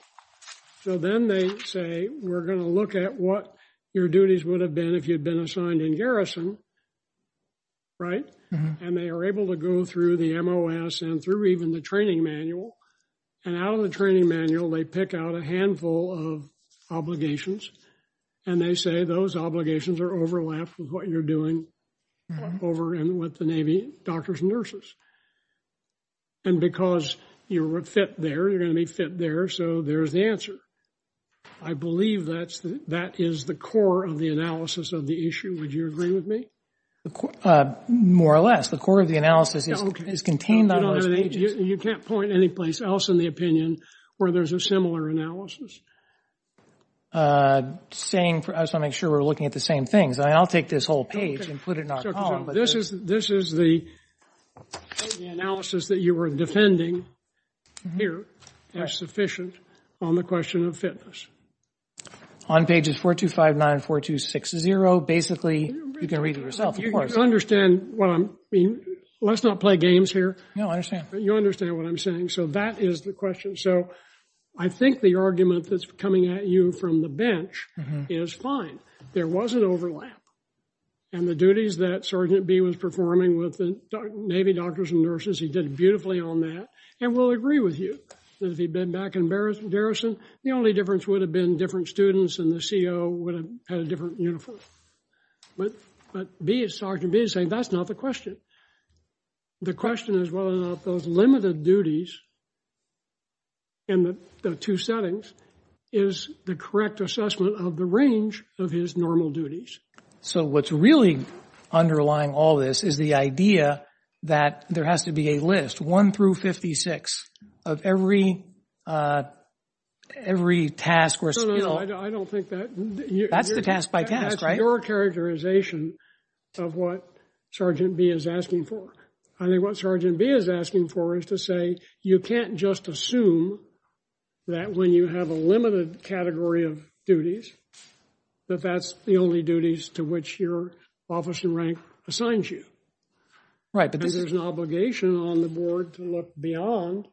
So then they say, we're going to look at what your duties would have been if you'd been assigned in garrison, right? And they are able to go through the MOS and through even the training manual. And out of the training manual, they pick out a handful of obligations, and they say those obligations are overlapped with what you're doing over with the Navy doctors and nurses. And because you were fit there, you're going to be fit there, so there's the answer. I believe that is the core of the analysis of the issue. Would you agree with me? More or less. The core of the analysis is contained on those pages. You can't point anyplace else in the opinion where there's a similar analysis. I was trying to make sure we were looking at the same thing. I'll take this whole page and put it in our column. This is the analysis that you were defending here as sufficient on the question of fitness. On pages 4259, 4260. Basically, you can read yourself. You understand what I'm... Let's not play games here. No, I understand. You understand what I'm saying. So that is the question. So I think the argument that's coming at you from the bench is fine. There was an overlap. And the duties that Sergeant B was performing with the Navy doctors and nurses, he did beautifully on that, and we'll agree with you. If he'd been back in Garrison, the only difference would have been different students and the CO would have had a different uniform. But Sergeant B is saying that's not the question. The question is whether those limited duties in the two settings is the correct assessment of the range of his normal duties. So what's really underlying all this is the idea that there has to be a list, one through 56, of every task or skill. I don't think that... That's the task by task, right? That's a major characterization of what Sergeant B is asking for. I think what Sergeant B is asking for is to say, you can't just assume that when you have a limited category of duties, that that's the only duties to which your office in rank assigns you. Right. Because there's an obligation on the board to look beyond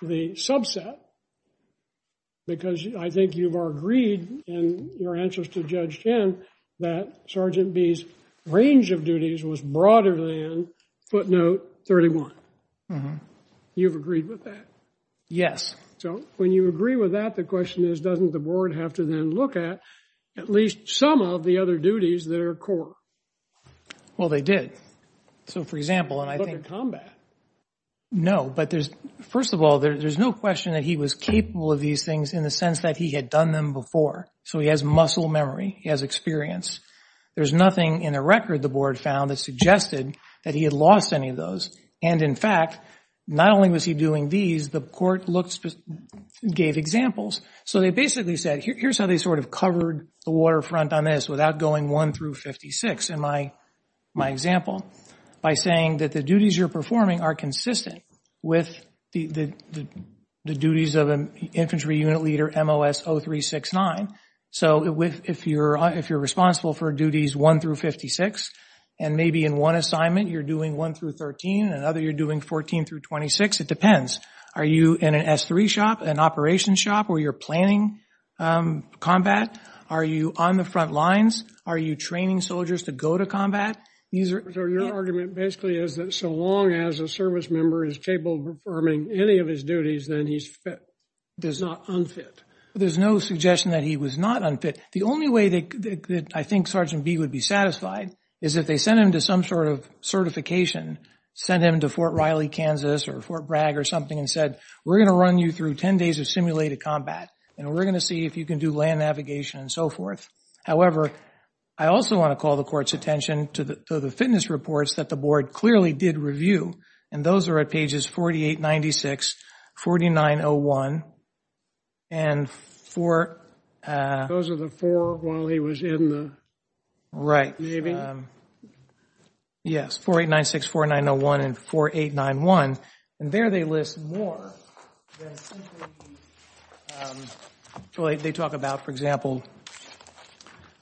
the subset because I think you've agreed in your answers to Judge Chen that Sergeant B's range of duties was broader than footnote 31. You've agreed with that? Yes. So when you agree with that, the question is doesn't the board have to then look at at least some of the other duties that are core? Well, they did. So for example, and I think... No, but there's... First of all, there's no question that he was capable of these things in the sense that he had done them before. So he has muscle memory. He has experience. There's nothing in the record the board found that suggested that he had lost any of those. And in fact, not only was he doing these, the court gave examples. So they basically said, here's how they sort of covered the waterfront on this without going one through 56 in my example, by saying that the duties you're performing are consistent with the duties of an Infantry Unit Leader MOS 0369. So if you're responsible for duties one through 56 and maybe in one assignment you're doing one through 13, another you're doing 14 through 26, it depends. Are you in an S3 shop, an operations shop, where you're planning combat? Are you on the front lines? Are you training soldiers to go to combat? Their argument basically is that so long as a service member is capable of performing any of his duties, then he's fit, does not unfit. There's no suggestion that he was not unfit. The only way that I think Sergeant B would be satisfied is if they sent him to some sort of certification, sent him to Fort Riley, Kansas or Fort Bragg or something and said, we're going to run you through 10 days of simulated combat, and we're going to see if you can do land navigation and so forth. However, I also want to call the court's attention to the fitness reports that the board clearly did review, and those are at pages 4896, 4901, and four... Those are the four while he was in the Navy? Right. Yes, 4896, 4901, and 4891. And there they list more. They talk about, for example,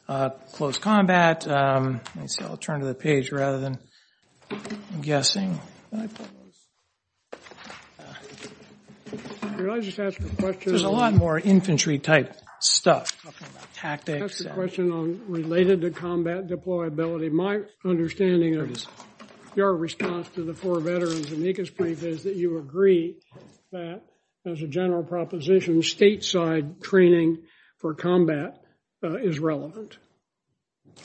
close combat. I'll turn to the page rather than guessing. Can I just ask a question? There's a lot more infantry-type stuff, tactics. Just a question related to combat deployability. My understanding of your response to the four veterans in Ecospring is that you agree that, as a general proposition, stateside training for combat is relevant.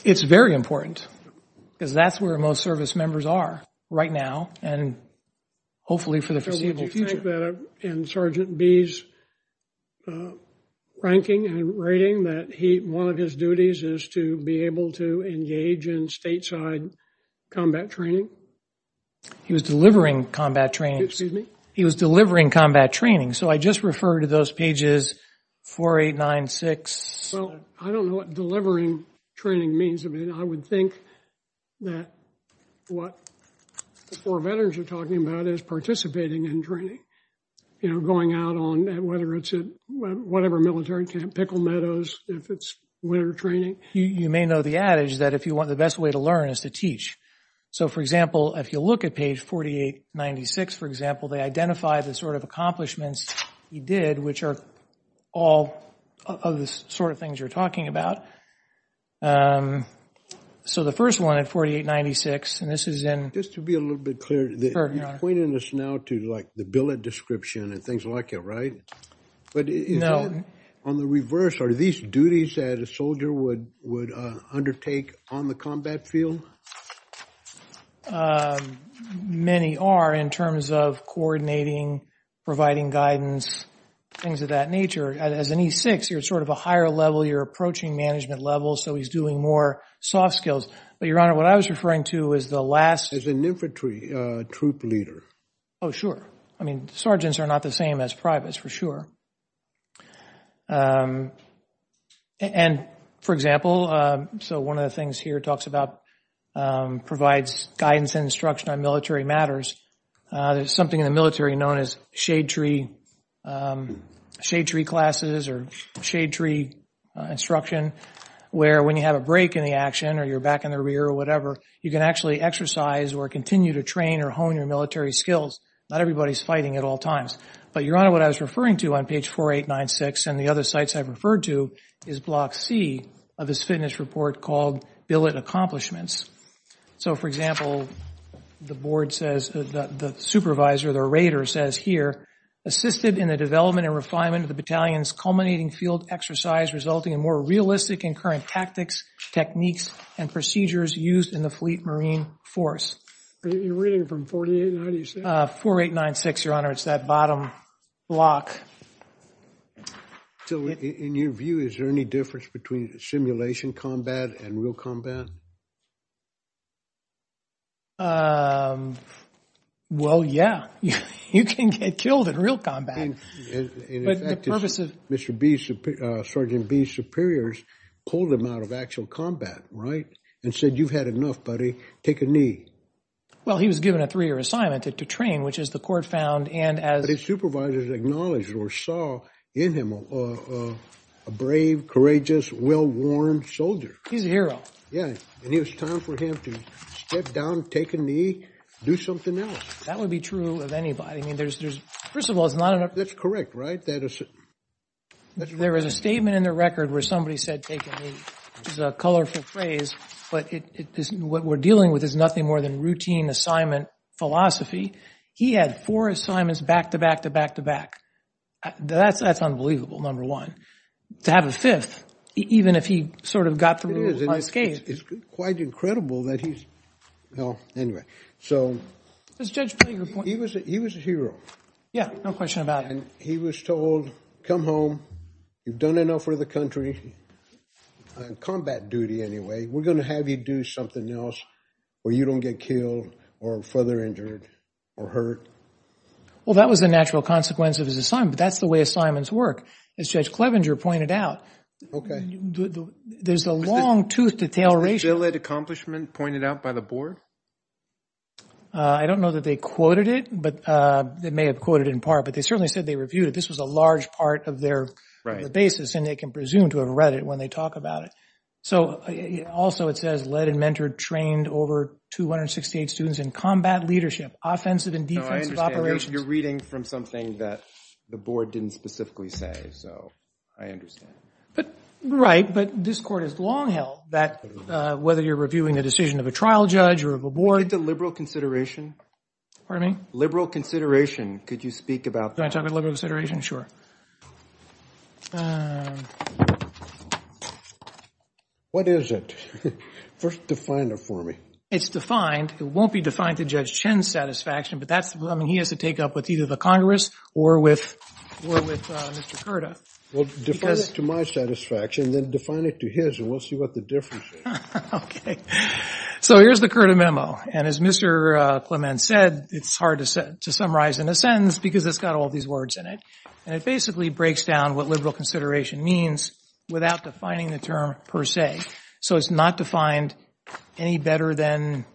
It's very important, because that's where most service members are right now and hopefully for the foreseeable future. Did you think that in Sergeant B's ranking and rating that one of his duties is to be able to engage in stateside combat training? He was delivering combat training. Excuse me? He was delivering combat training, so I just refer to those pages 4896... Well, I don't know what delivering training means. I mean, I would think that what the four veterans are talking about is participating in training, you know, going out on whatever military camp, Pickle Meadows, if it's winter training. You may know the adage that the best way to learn is to teach. So, for example, if you look at page 4896, for example, they identify the sort of accomplishments he did, which are all of the sort of things you're talking about. So the first one at 4896, and this is in... Just to be a little bit clearer, you're pointing this now to, like, the billet description and things like it, right? No. On the reverse, are these duties that a soldier would undertake on the combat field? Many are in terms of coordinating, providing guidance, things of that nature. As an E6, you're sort of a higher level, you're approaching management level, so he's doing more soft skills. But, Your Honor, what I was referring to is the last... As an infantry troop leader. Oh, sure. I mean, sergeants are not the same as privates, for sure. And, for example, so one of the things here that talks about provides guidance and instruction on military matters, there's something in the military known as shade tree classes or shade tree instruction, where when you have a break in the action or you're back in the rear or whatever, you can actually exercise or continue to train or hone your military skills. Not everybody's fighting at all times. But, Your Honor, what I was referring to on page 4896 and the other sites I've referred to is block C of this fitness report called billet accomplishments. So, for example, the board says, the supervisor, the raider says here, assisted in the development and refinement of the battalion's culminating field exercise resulting in more realistic and current tactics, techniques, and procedures used in the fleet marine force. You're reading it from 48, how do you say it? 4896, Your Honor, it's that bottom block. So, in your view, is there any difference between simulation combat and real combat? Well, yeah, you can get killed in real combat. In fact, Sergeant B's superiors pulled him out of actual combat, right? And said, you've had enough, buddy, take a knee. Well, he was given a three-year assignment to train, which is the court found and as... But his supervisors acknowledged or saw in him a brave, courageous, well-worn soldier. He's a hero. Yeah, and it was time for him to step down, take a knee, do something else. That would be true of anybody. I mean, there's... First of all, it's not enough... That's correct, right? There is a statement in the record where somebody said, take a knee, which is a colorful phrase, but what we're dealing with is nothing more than routine assignment philosophy. He had four assignments back to back to back to back. That's unbelievable, number one. To have a fifth, even if he sort of got through his last game... It's quite incredible that he's... Anyway, so... He was a hero. Yeah, no question about it. And he was told, come home, you've done enough for the country, on combat duty anyway, we're gonna have you do something else where you don't get killed or further injured or hurt. Well, that was the natural consequence of his assignment, but that's the way assignments work, as Judge Clevenger pointed out. There's a long tooth to tail ratio. Was there still an accomplishment pointed out by the board? I don't know that they quoted it, but they may have quoted it in part, but they certainly said they reviewed it. This was a large part of their basis, and they can presume to have read it when they talk about it. So, also it says, led and mentored trained over 268 students in combat leadership, offensive and defensive operations... No, I understand. You're reading from something that the board didn't specifically say, so I understand. Right, but this court has long held that whether you're reviewing a decision of a trial judge or of a board... It's a liberal consideration. Pardon me? Liberal consideration. Could you speak about... Can I talk about liberal consideration? Sure. What is it? First, define it for me. It's defined. It won't be defined to Judge Chin's satisfaction, but he has to take it up with either the Congress or with Mr. Curta. Well, define it to my satisfaction, then define it to his, and we'll see what the difference is. Okay. So, here's the Curta memo, and as Mr. Clement said, it's hard to summarize in a sentence because it's got all these words in it, and it basically breaks down what liberal consideration means without defining the term per se. So, it's not defined any better than...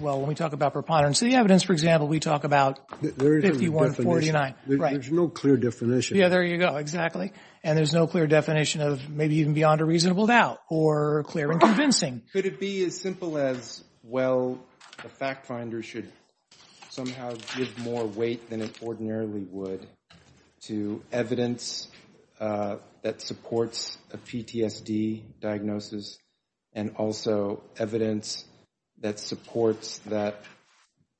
Well, when we talk about preponderance of the evidence, for example, we talk about 5149. There's no clear definition. Yeah, there you go. Exactly. And there's no clear definition of maybe even beyond a reasonable doubt or clear and convincing. Could it be as simple as, well, the fact finder should somehow give more weight than it ordinarily would to evidence that supports a PTSD diagnosis and also evidence that supports that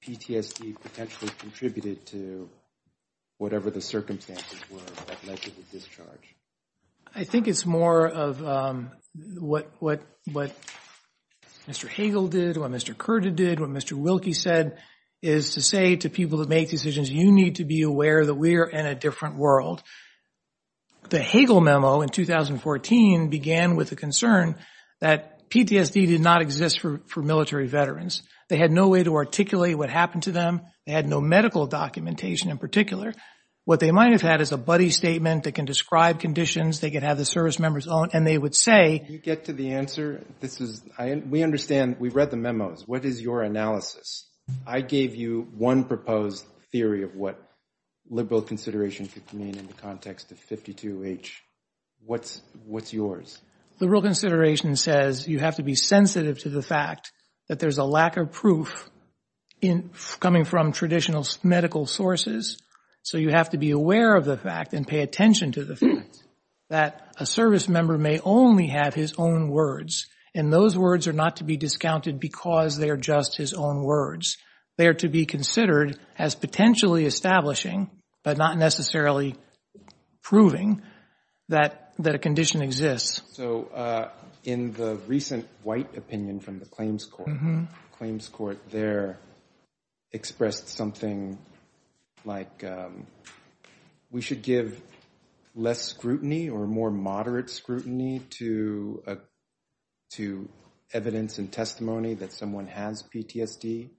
PTSD potentially contributed to whatever the circumstances were that led to the discharge? I think it's more of what Mr. Hagel did, what Mr. Curta did, what Mr. Wilkie said, is to say to people who make decisions, you need to be aware that we are in a different world. The Hagel memo in 2014 began with the concern that PTSD did not exist for military veterans. They had no way to articulate what happened to them. They had no medical documentation in particular. What they might have had is a buddy statement that can describe conditions. They could have the service members on, and they would say... Did you get to the answer? We understand. We read the memos. What is your analysis? I gave you one proposed theory of what liberal consideration could mean in the context of 52H. What's yours? Liberal consideration says you have to be sensitive to the fact that there's a lack of proof coming from traditional medical sources, so you have to be aware of the fact and pay attention to the fact that a service member may only have his own words, and those words are not to be discounted because they are just his own words. They are to be considered as potentially establishing but not necessarily proving that a condition exists. In the recent white opinion from the claims court, the claims court there expressed something like, we should give less scrutiny or more moderate scrutiny to evidence and testimony that someone has PTSD.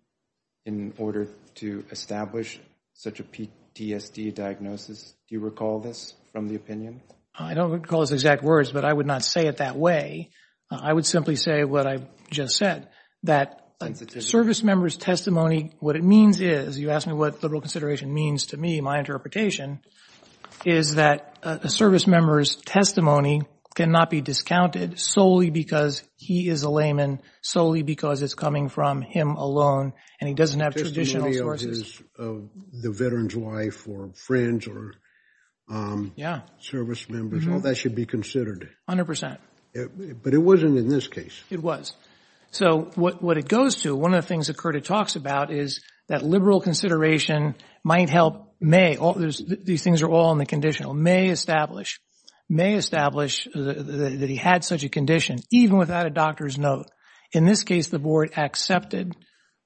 In order to establish such a PTSD diagnosis, do you recall this from the opinion? I don't recall the exact words, but I would not say it that way. I would simply say what I just said, that a service member's testimony, what it means is, you asked me what liberal consideration means to me, my interpretation, is that a service member's testimony cannot be discounted solely because he is a layman, solely because it's coming from him alone, and he doesn't have traditional sources. Testimony of the veteran's wife or friends or service members, all that should be considered. 100%. But it wasn't in this case. It was. So what it goes to, one of the things that Curtis talks about is that liberal consideration might help, these things are all in the conditional, may establish that he had such a condition, even without a doctor's note. In this case, the board accepted,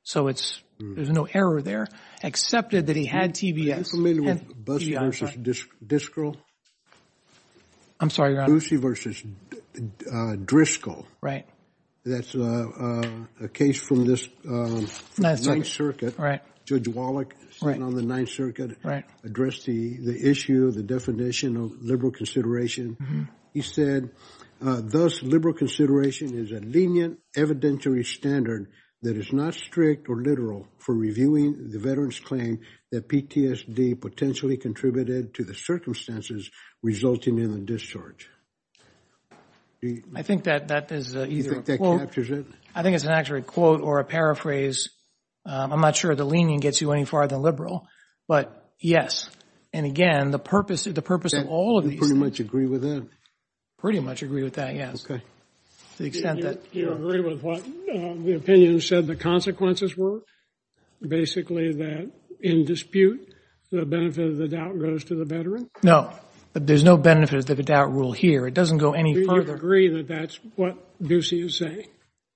so there's no error there, accepted that he had TBS. I'm sorry. Bussey versus Driscoll. Right. That's a case from this 9th Circuit. Right. Judge Wallach, sitting on the 9th Circuit, addressed the issue, the definition of liberal consideration. He said, liberal consideration is a lenient evidentiary standard that is not strict or literal for reviewing the veteran's claim that PTSD potentially contributed to the circumstances resulting in a discharge. I think that is an accurate quote or a paraphrase. I'm not sure the lenient gets you any farther than liberal, but yes. And again, the purpose of all of these- I pretty much agree with that. Pretty much agree with that, yes. To the extent that- You agree with what the opinion said the consequences were? Basically, that in dispute, the benefit of the doubt goes to the veteran? No. There's no benefit to the doubt rule here. It doesn't go any further. Do you agree that that's what Bussey is saying?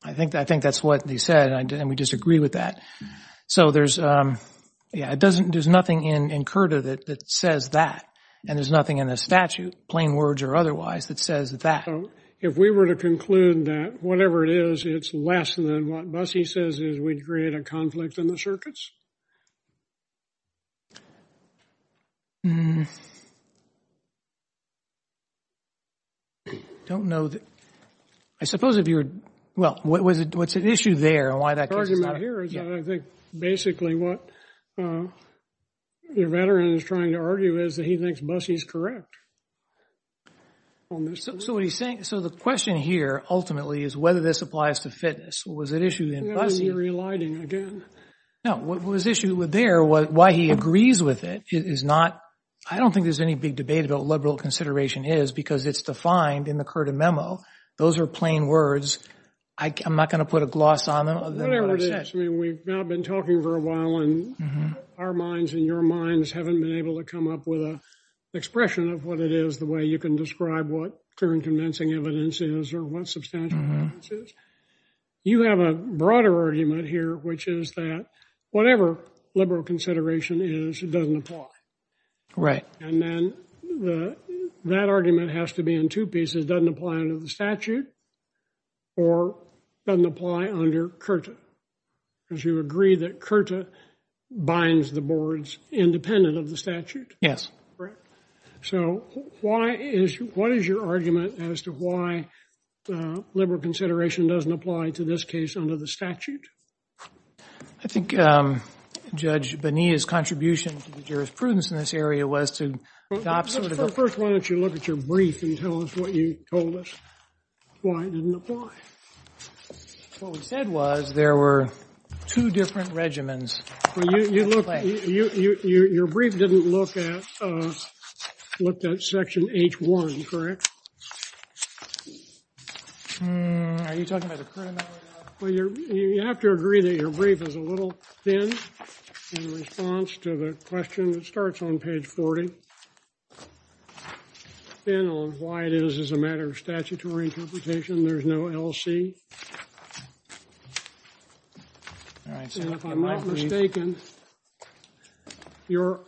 I think that's what he said, and we disagree with that. So there's, yeah, there's nothing in CURTA that says that, and there's nothing in the statute, plain words or otherwise, that says that. If we were to conclude that whatever it is, it's less than what Bussey says is we'd create a conflict in the circuits? I don't know that- I suppose if you're- Well, what's at issue there, and why that- The argument here is that I think, what the veteran is trying to argue is that he thinks Bussey's correct. So he thinks- So the question here, is whether this applies to fitness. Was it issued in Bussey? No, what was issued there, why he agrees with it, is not- I don't think there's any big debate about what liberal consideration is, because it's defined in the CURTA memo. Those are plain words. I'm not going to put a gloss on them. Whatever it is, we've now been talking for a while, and our minds and your minds haven't been able to come up with an expression of what it is, the way you can describe what current convincing evidence is, or what substantial evidence is. You have a broader argument here, which is that, whatever liberal consideration is, it doesn't apply. Right. And then, that argument has to be in two pieces. It doesn't apply under the statute, or doesn't apply under CURTA, because you agree that CURTA binds the boards independent of the statute. Yes. So, what is your argument as to why liberal consideration doesn't apply to this case under the statute? I think Judge Bonilla's contribution to the jurisprudence in this area was to adopt sort of a- Well, first, why don't you look at your brief and tell us what you told us, why it didn't apply. What we said was there were two different regimens. Well, you looked- Your brief didn't look at- looked at section H1, correct? Are you talking about a current- Well, you have to agree that your brief is a little thin in response to the question that starts on page 40, thin on why it is as a matter of statutory interpretation. There's no LC. And if I'm not mistaken, your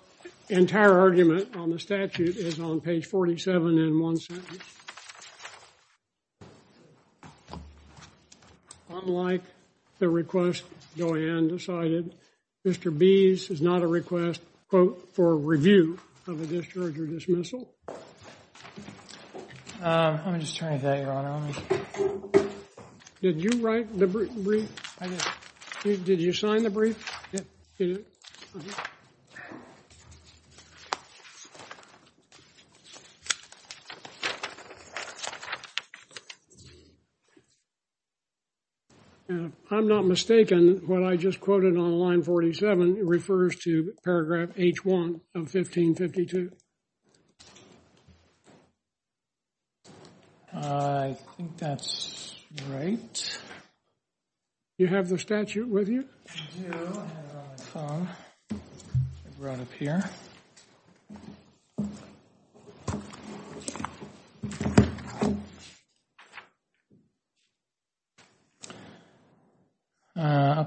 entire argument on the statute is on page 47 in one sentence. Unlike the request Joanne decided, Mr. Bees is not a request quote, for review of a discharge or dismissal. I'm just trying to think. Did you write the brief? Did you sign the brief? I'm not mistaken. What I just quoted on line 47 refers to paragraph H1 of 1552. I think that's right. You have the statute with you? I have it on the phone. It's right up here.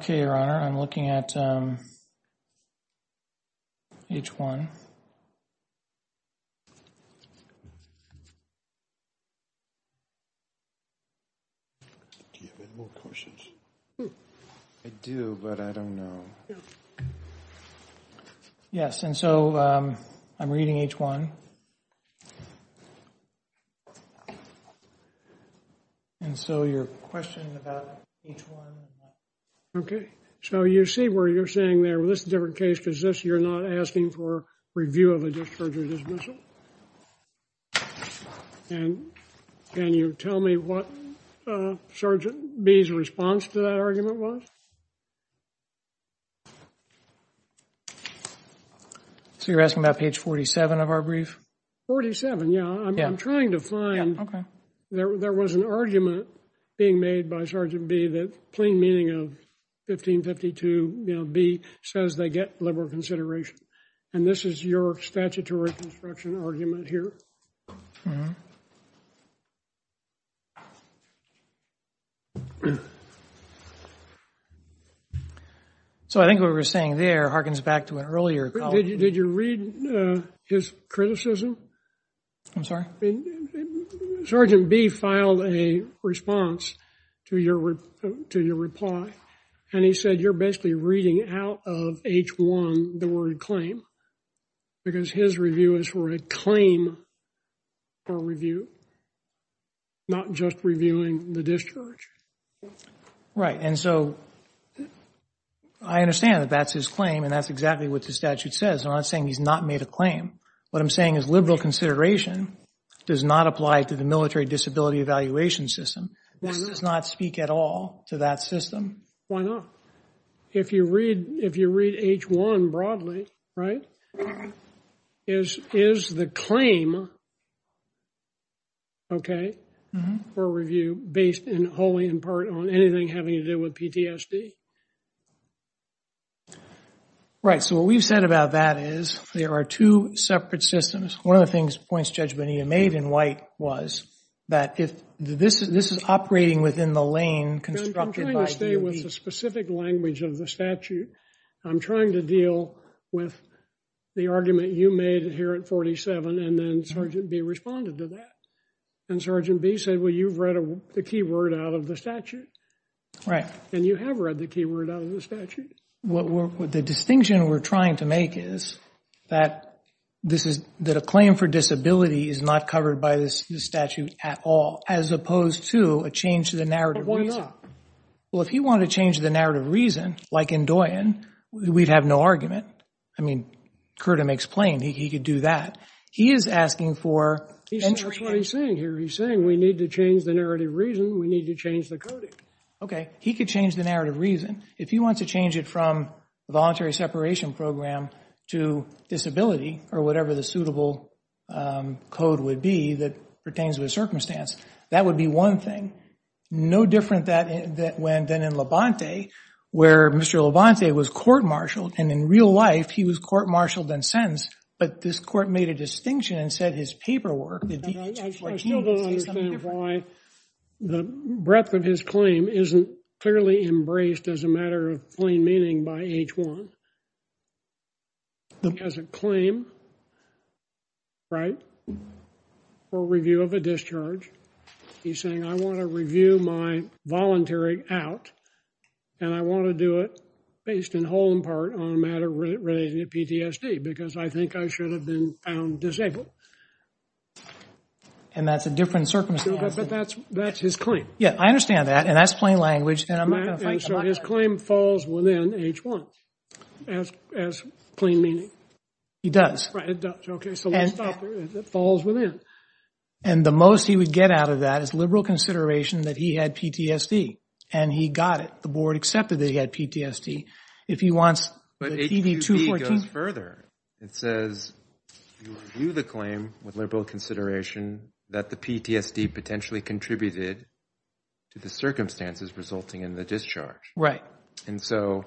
Okay, Your Honor. I'm looking at H1. And I'm looking at H1. I do, but I don't know. Yes, and so I'm reading H1. And so your question about H1 and that. Okay. So you see where you're saying there that's a different case is this you're not asking for review of the discharge or dismissal? And can you tell me what Sergeant B's response to that argument was? So you're asking about page 47 of our brief? 47, yeah. I'm trying to find. Okay. There was an argument being made by Sergeant B that plain meaning of 1552, you know, he says they get liberal consideration. And this is your statutory construction argument here. So I think what we were saying there harkens back to an earlier. Did you read his criticism? I'm sorry? Sergeant B filed a response to your reply. And he said you're basically reading out of H1 the word claim because his review is for a claim or review, not just reviewing the discharge. Right. And so I understand that that's his claim and that's exactly what the statute says. I'm not saying he's not made a claim. What I'm saying is liberal consideration does not apply to the military disability evaluation system. That does not speak at all to that system. Why not? If you read H1 broadly, right, is the claim, okay, for review based wholly in part on anything having to do with PTSD? Right. So what we've said about that is there are two separate systems. One of the points Judge Bonita made in white was that this is operating within the lane. I'm trying to stay with the specific language of the statute. I'm trying to deal with the argument you made here at 47 and then Sergeant B responded to that. And Sergeant B said, well, you've read the key word out of the statute. Right. And you have read the key word out of the statute. The distinction we're trying to make is that a claim for disability is not covered by this statute at all as opposed to a change to the narrative. But why not? Well, if you want to change the narrative reason, like in Doyin, we'd have no argument. I mean, Curtin explained he could do that. He is asking for entry. That's what he's saying here. He's saying we need to change the narrative reason. We need to change the coding. Okay. He could change the narrative reason. If you want to change it from voluntary separation program to disability or whatever the suitable code would be that pertains to the circumstance, that would be one thing. No different than in Levante where Mr. Levante was court-martialed. And in real life, he was court-martialed and sentenced. But this court made a distinction and said his paperwork. I still don't understand why the breadth of his claim isn't fairly embraced as a matter of plain meaning by H1. As a claim, right, for review of a discharge, he's saying I want to review my voluntary out and I want to do it based in whole and part on a matter related to PTSD because I think I should have been found disabled. And that's a different circumstance. But that's his claim. Yeah, I understand that. And that's plain language. And so his claim falls within H1 as plain meaning. He does. Okay, so it falls within. And the most he would get out of that is liberal consideration that he had PTSD and he got it. The board accepted that he had PTSD. But H2B goes further. It says you review the claim with liberal consideration that the PTSD potentially contributed to the circumstances resulting in the discharge. Right. And so,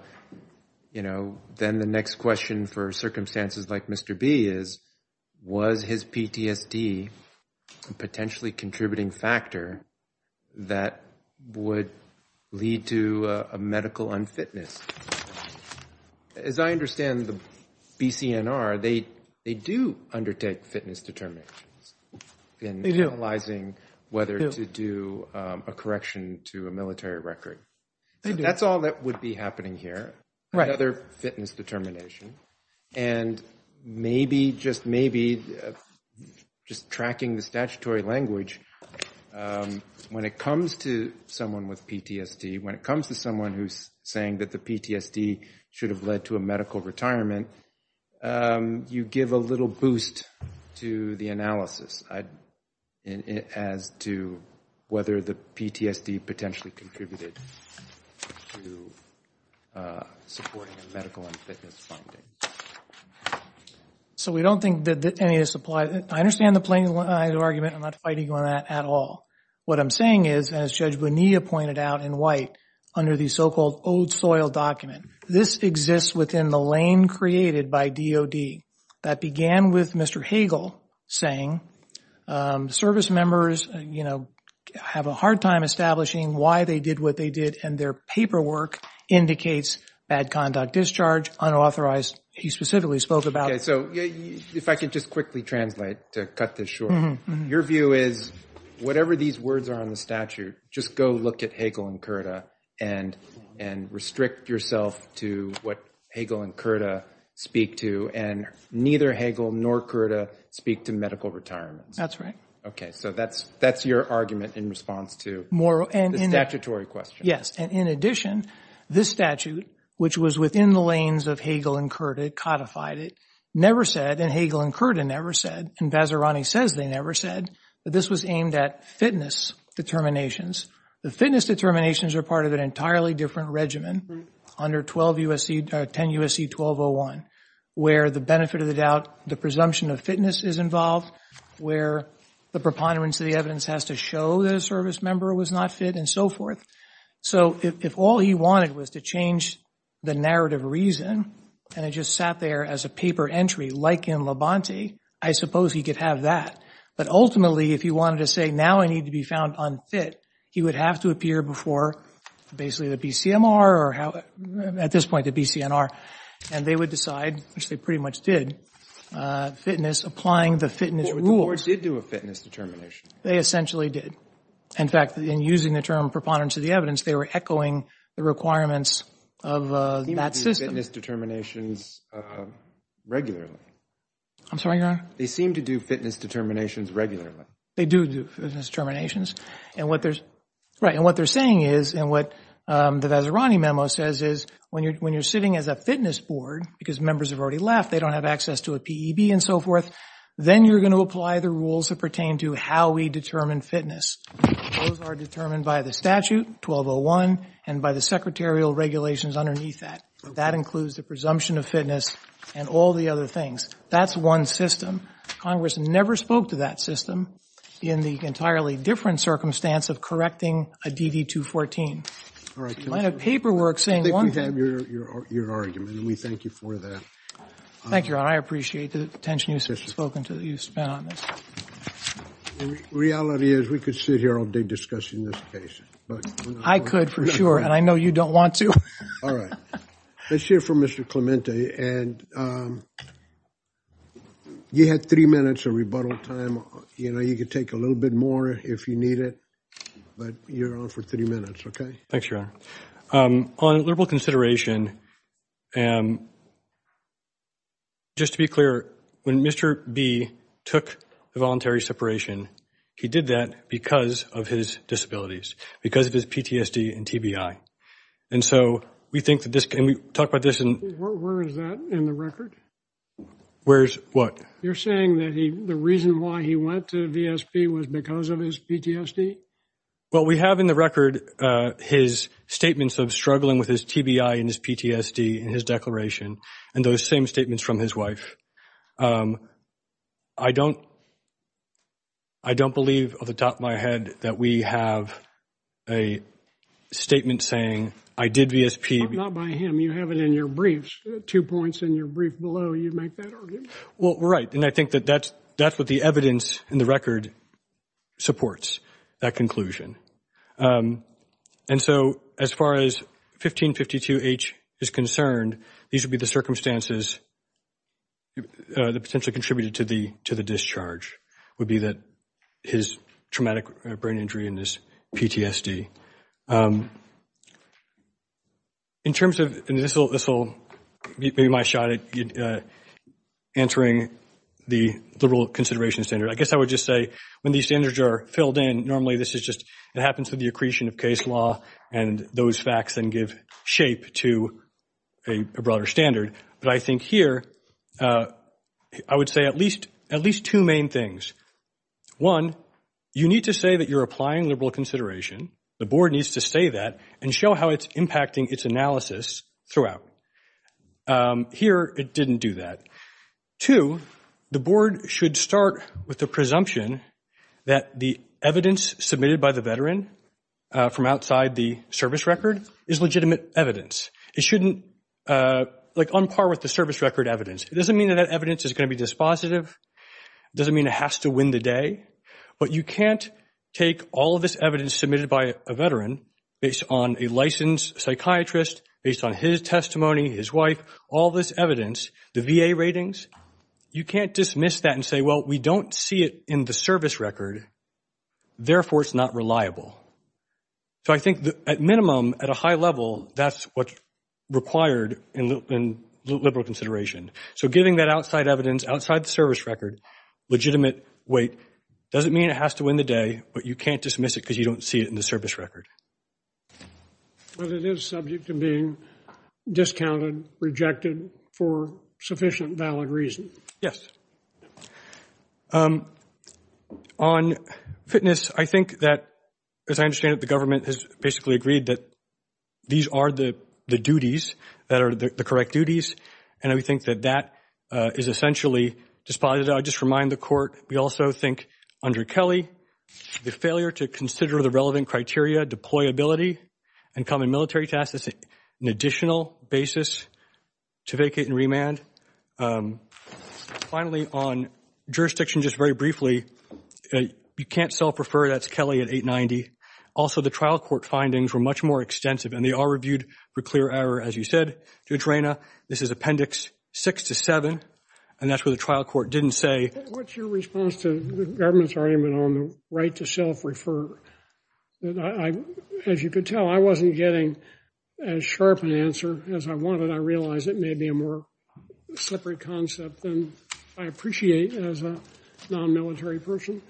you know, then the next question for circumstances like Mr. B is, was his PTSD a potentially contributing factor that would lead to a medical unfitness? As I understand the BCNR, they do undertake fitness determinations in analyzing whether to do a correction to a military record. They do. That's all that would be happening here. Right. Another fitness determination. And maybe, just maybe, just tracking the statutory language, when it comes to someone with PTSD, when it comes to someone who's saying that the PTSD should have led to a medical retirement, you give a little boost to the analysis as to whether the PTSD potentially contributed to supporting a medical unfitness finding. So we don't think that any of this applies. I understand the plaintiff's argument. I'm not fighting on that at all. What I'm saying is, as Judge Bonilla pointed out in white, under the so-called old soil document, this exists within the lane created by DOD. That began with Mr. Hagel saying, service members have a hard time establishing why they did what they did, and their paperwork indicates bad conduct, discharge, unauthorized. He specifically spoke about it. If I could just quickly translate to cut this short. Your view is, whatever these words are on the statute, just go look at Hagel and Curta and restrict yourself to what Hagel and Curta speak to and neither Hagel nor Curta speak to medical retirement. That's right. Okay, so that's your argument in response to the statutory question. Yes, and in addition, this statute, which was within the lanes of Hagel and Curta, it codified it, never said, and Hagel and Curta never said, and Vazirani says they never said, but this was aimed at fitness determinations. The fitness determinations are part of an entirely different regimen under 10 USC 1201, where the benefit of the doubt, the presumption of fitness is involved, where the preponderance of the evidence has to show the service member was not fit and so forth. So if all he wanted was to change the narrative reason and it just sat there as a paper entry like in Labonte, I suppose he could have that. But ultimately, if he wanted to say, now I need to be found unfit, he would have to appear before basically the BCMR or at this point the BCNR, and they would decide, which they pretty much did, fitness, applying the fitness rules. Or did do a fitness determination. They essentially did. In fact, in using the term preponderance of the evidence, they were echoing the requirements of that system. They seem to do fitness determinations regularly. I'm sorry, your honor? They seem to do fitness determinations regularly. They do do fitness determinations, and what they're saying is, and what the Vazirani memo says is, when you're sitting as a fitness board, because members have already left, they don't have access to a PEB and so forth, then you're going to apply the rules that pertain to how we determine fitness. Those are determined by the statute, 1201, and by the secretarial regulations underneath that. That includes the presumption of fitness and all the other things. That's one system. Congress never spoke to that system in the entirely different circumstance of correcting a DD-214. I have paperwork saying one thing. I think we've had your argument, and we thank you for that. Thank you, your honor. I appreciate the attention you've spoken to. You've spent on this. The reality is, we could sit here all day discussing this case. I could, for sure, and I know you don't want to. All right. Let's hear from Mr. Clemente, and you had three minutes of rebuttal time. You know, you could take a little bit more if you need it, but you're on for three minutes, okay? Thanks, your honor. On liberal consideration, just to be clear, when Mr. B took the voluntary separation, he did that because of his disabilities, because of his PTSD and TBI. And so we think that this can be talked about this in... Where is that in the record? Where is what? You're saying that the reason why he went to VSP was because of his PTSD? Well, we have in the record his statements of struggling with his TBI and his PTSD in his declaration and those same statements from his wife. I don't believe off the top of my head that we have a statement saying, I did VSP... Not by him. You have it in your briefs, two points in your brief below. You'd make that argument. Well, right. And I think that that's what the evidence in the record supports. That conclusion. And so as far as 1552H is concerned, these would be the circumstances that contributed to the discharge, would be his traumatic brain injury and his PTSD. In terms of... And this will be my shot at answering the liberal consideration standard. I guess I would just say when these standards are filled in, normally this is just... It happens with the accretion of case law and those facts then give shape to a broader standard. But I think here, I would say at least two main things. One, you need to say that you're applying liberal consideration. The board needs to say that and show how it's impacting its analysis throughout. Here, it didn't do that. Two, the board should start with the presumption that the evidence submitted by the veteran from outside the service record is legitimate evidence. It shouldn't... Like, on par with the service record evidence. It doesn't mean that that evidence is going to be dispositive. It doesn't mean it has to win the day. But you can't take all of this evidence submitted by a veteran based on a licensed psychiatrist, based on his testimony, his wife, all this evidence, the VA ratings, you can't dismiss that and say, well, we don't see it in the service record, therefore it's not reliable. So I think at minimum, at a high level, that's what's required in liberal consideration. So giving that outside evidence, outside the service record, legitimate weight doesn't mean it has to win the day, but you can't dismiss it because you don't see it in the service record. Well, it is subject to being discounted, rejected, for sufficient valid reason. On fitness, I think that, as I understand it, the government has basically agreed that these are the duties that are the correct duties, and we think that that is essentially despised. I'll just remind the court, we also think, under Kelly, the failure to consider the relevant criteria, deployability, and common military tasks as an additional basis to vacate and remand. Finally, on jurisdiction, just very briefly, you can't self-refer, that's Kelly at 890. Also, the trial court findings were much more extensive, and they all reviewed for clear error, as you said, Judge Rayna. This is Appendix 6 to 7, and that's where the trial court didn't say... What's your response to the government's argument on the right to self-refer? As you can tell, I wasn't getting as sharp an answer as I wanted. I realize it may be a more separate concept than I appreciate as a non-military person.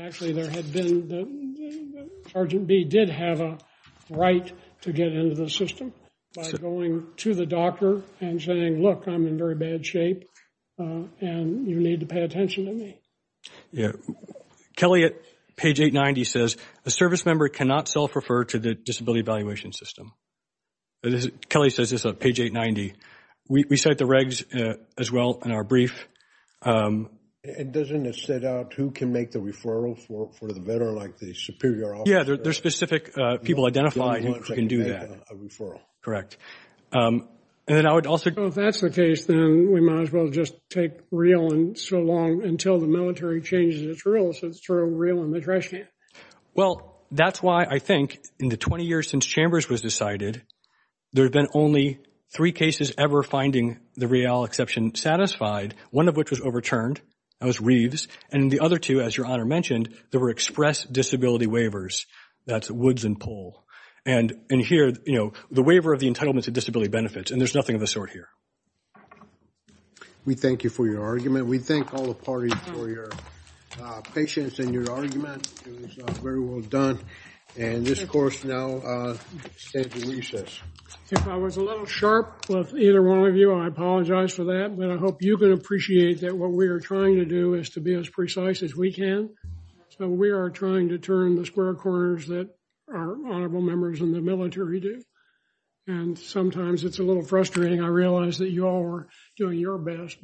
Actually, there had been... Sergeant B. did have a right to get into the system by going to the doctor and saying, look, I'm in very bad shape, and you need to pay attention to me. Kelly at page 890 says, a service member cannot self-refer to the disability evaluation system. Kelly says this on page 890. We said the regs as well in our brief. It doesn't set out who can make the referral for a veteran like the superior officer? Yeah, there's specific people identified who can do that. Well, if that's the case, then we might as well just take real and so long until the military changes its rules, and throw real in the trash can. Well, that's why I think in the 20 years since Chambers was decided, there have been only three cases ever finding the real exception satisfied, one of which was overturned. That was Reeves. And the other two, as Your Honor mentioned, there were express disability waivers. That's Woods and Pohl. And here, the waiver of the entitlement to disability benefits, and there's nothing of the sort here. We thank you for your argument. We thank all the parties for your patience in your argument. It was very well done. And this court now stands at recess. If I was a little sharp with either one of you, I apologize for that, but I hope you can appreciate that what we are trying to do is to be as precise as we can. So we are trying to turn the square corners that our honorable members in the military do. And sometimes it's a little frustrating. I realize that you all are doing your best.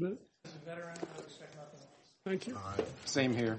Thank you. Same here. Thank you.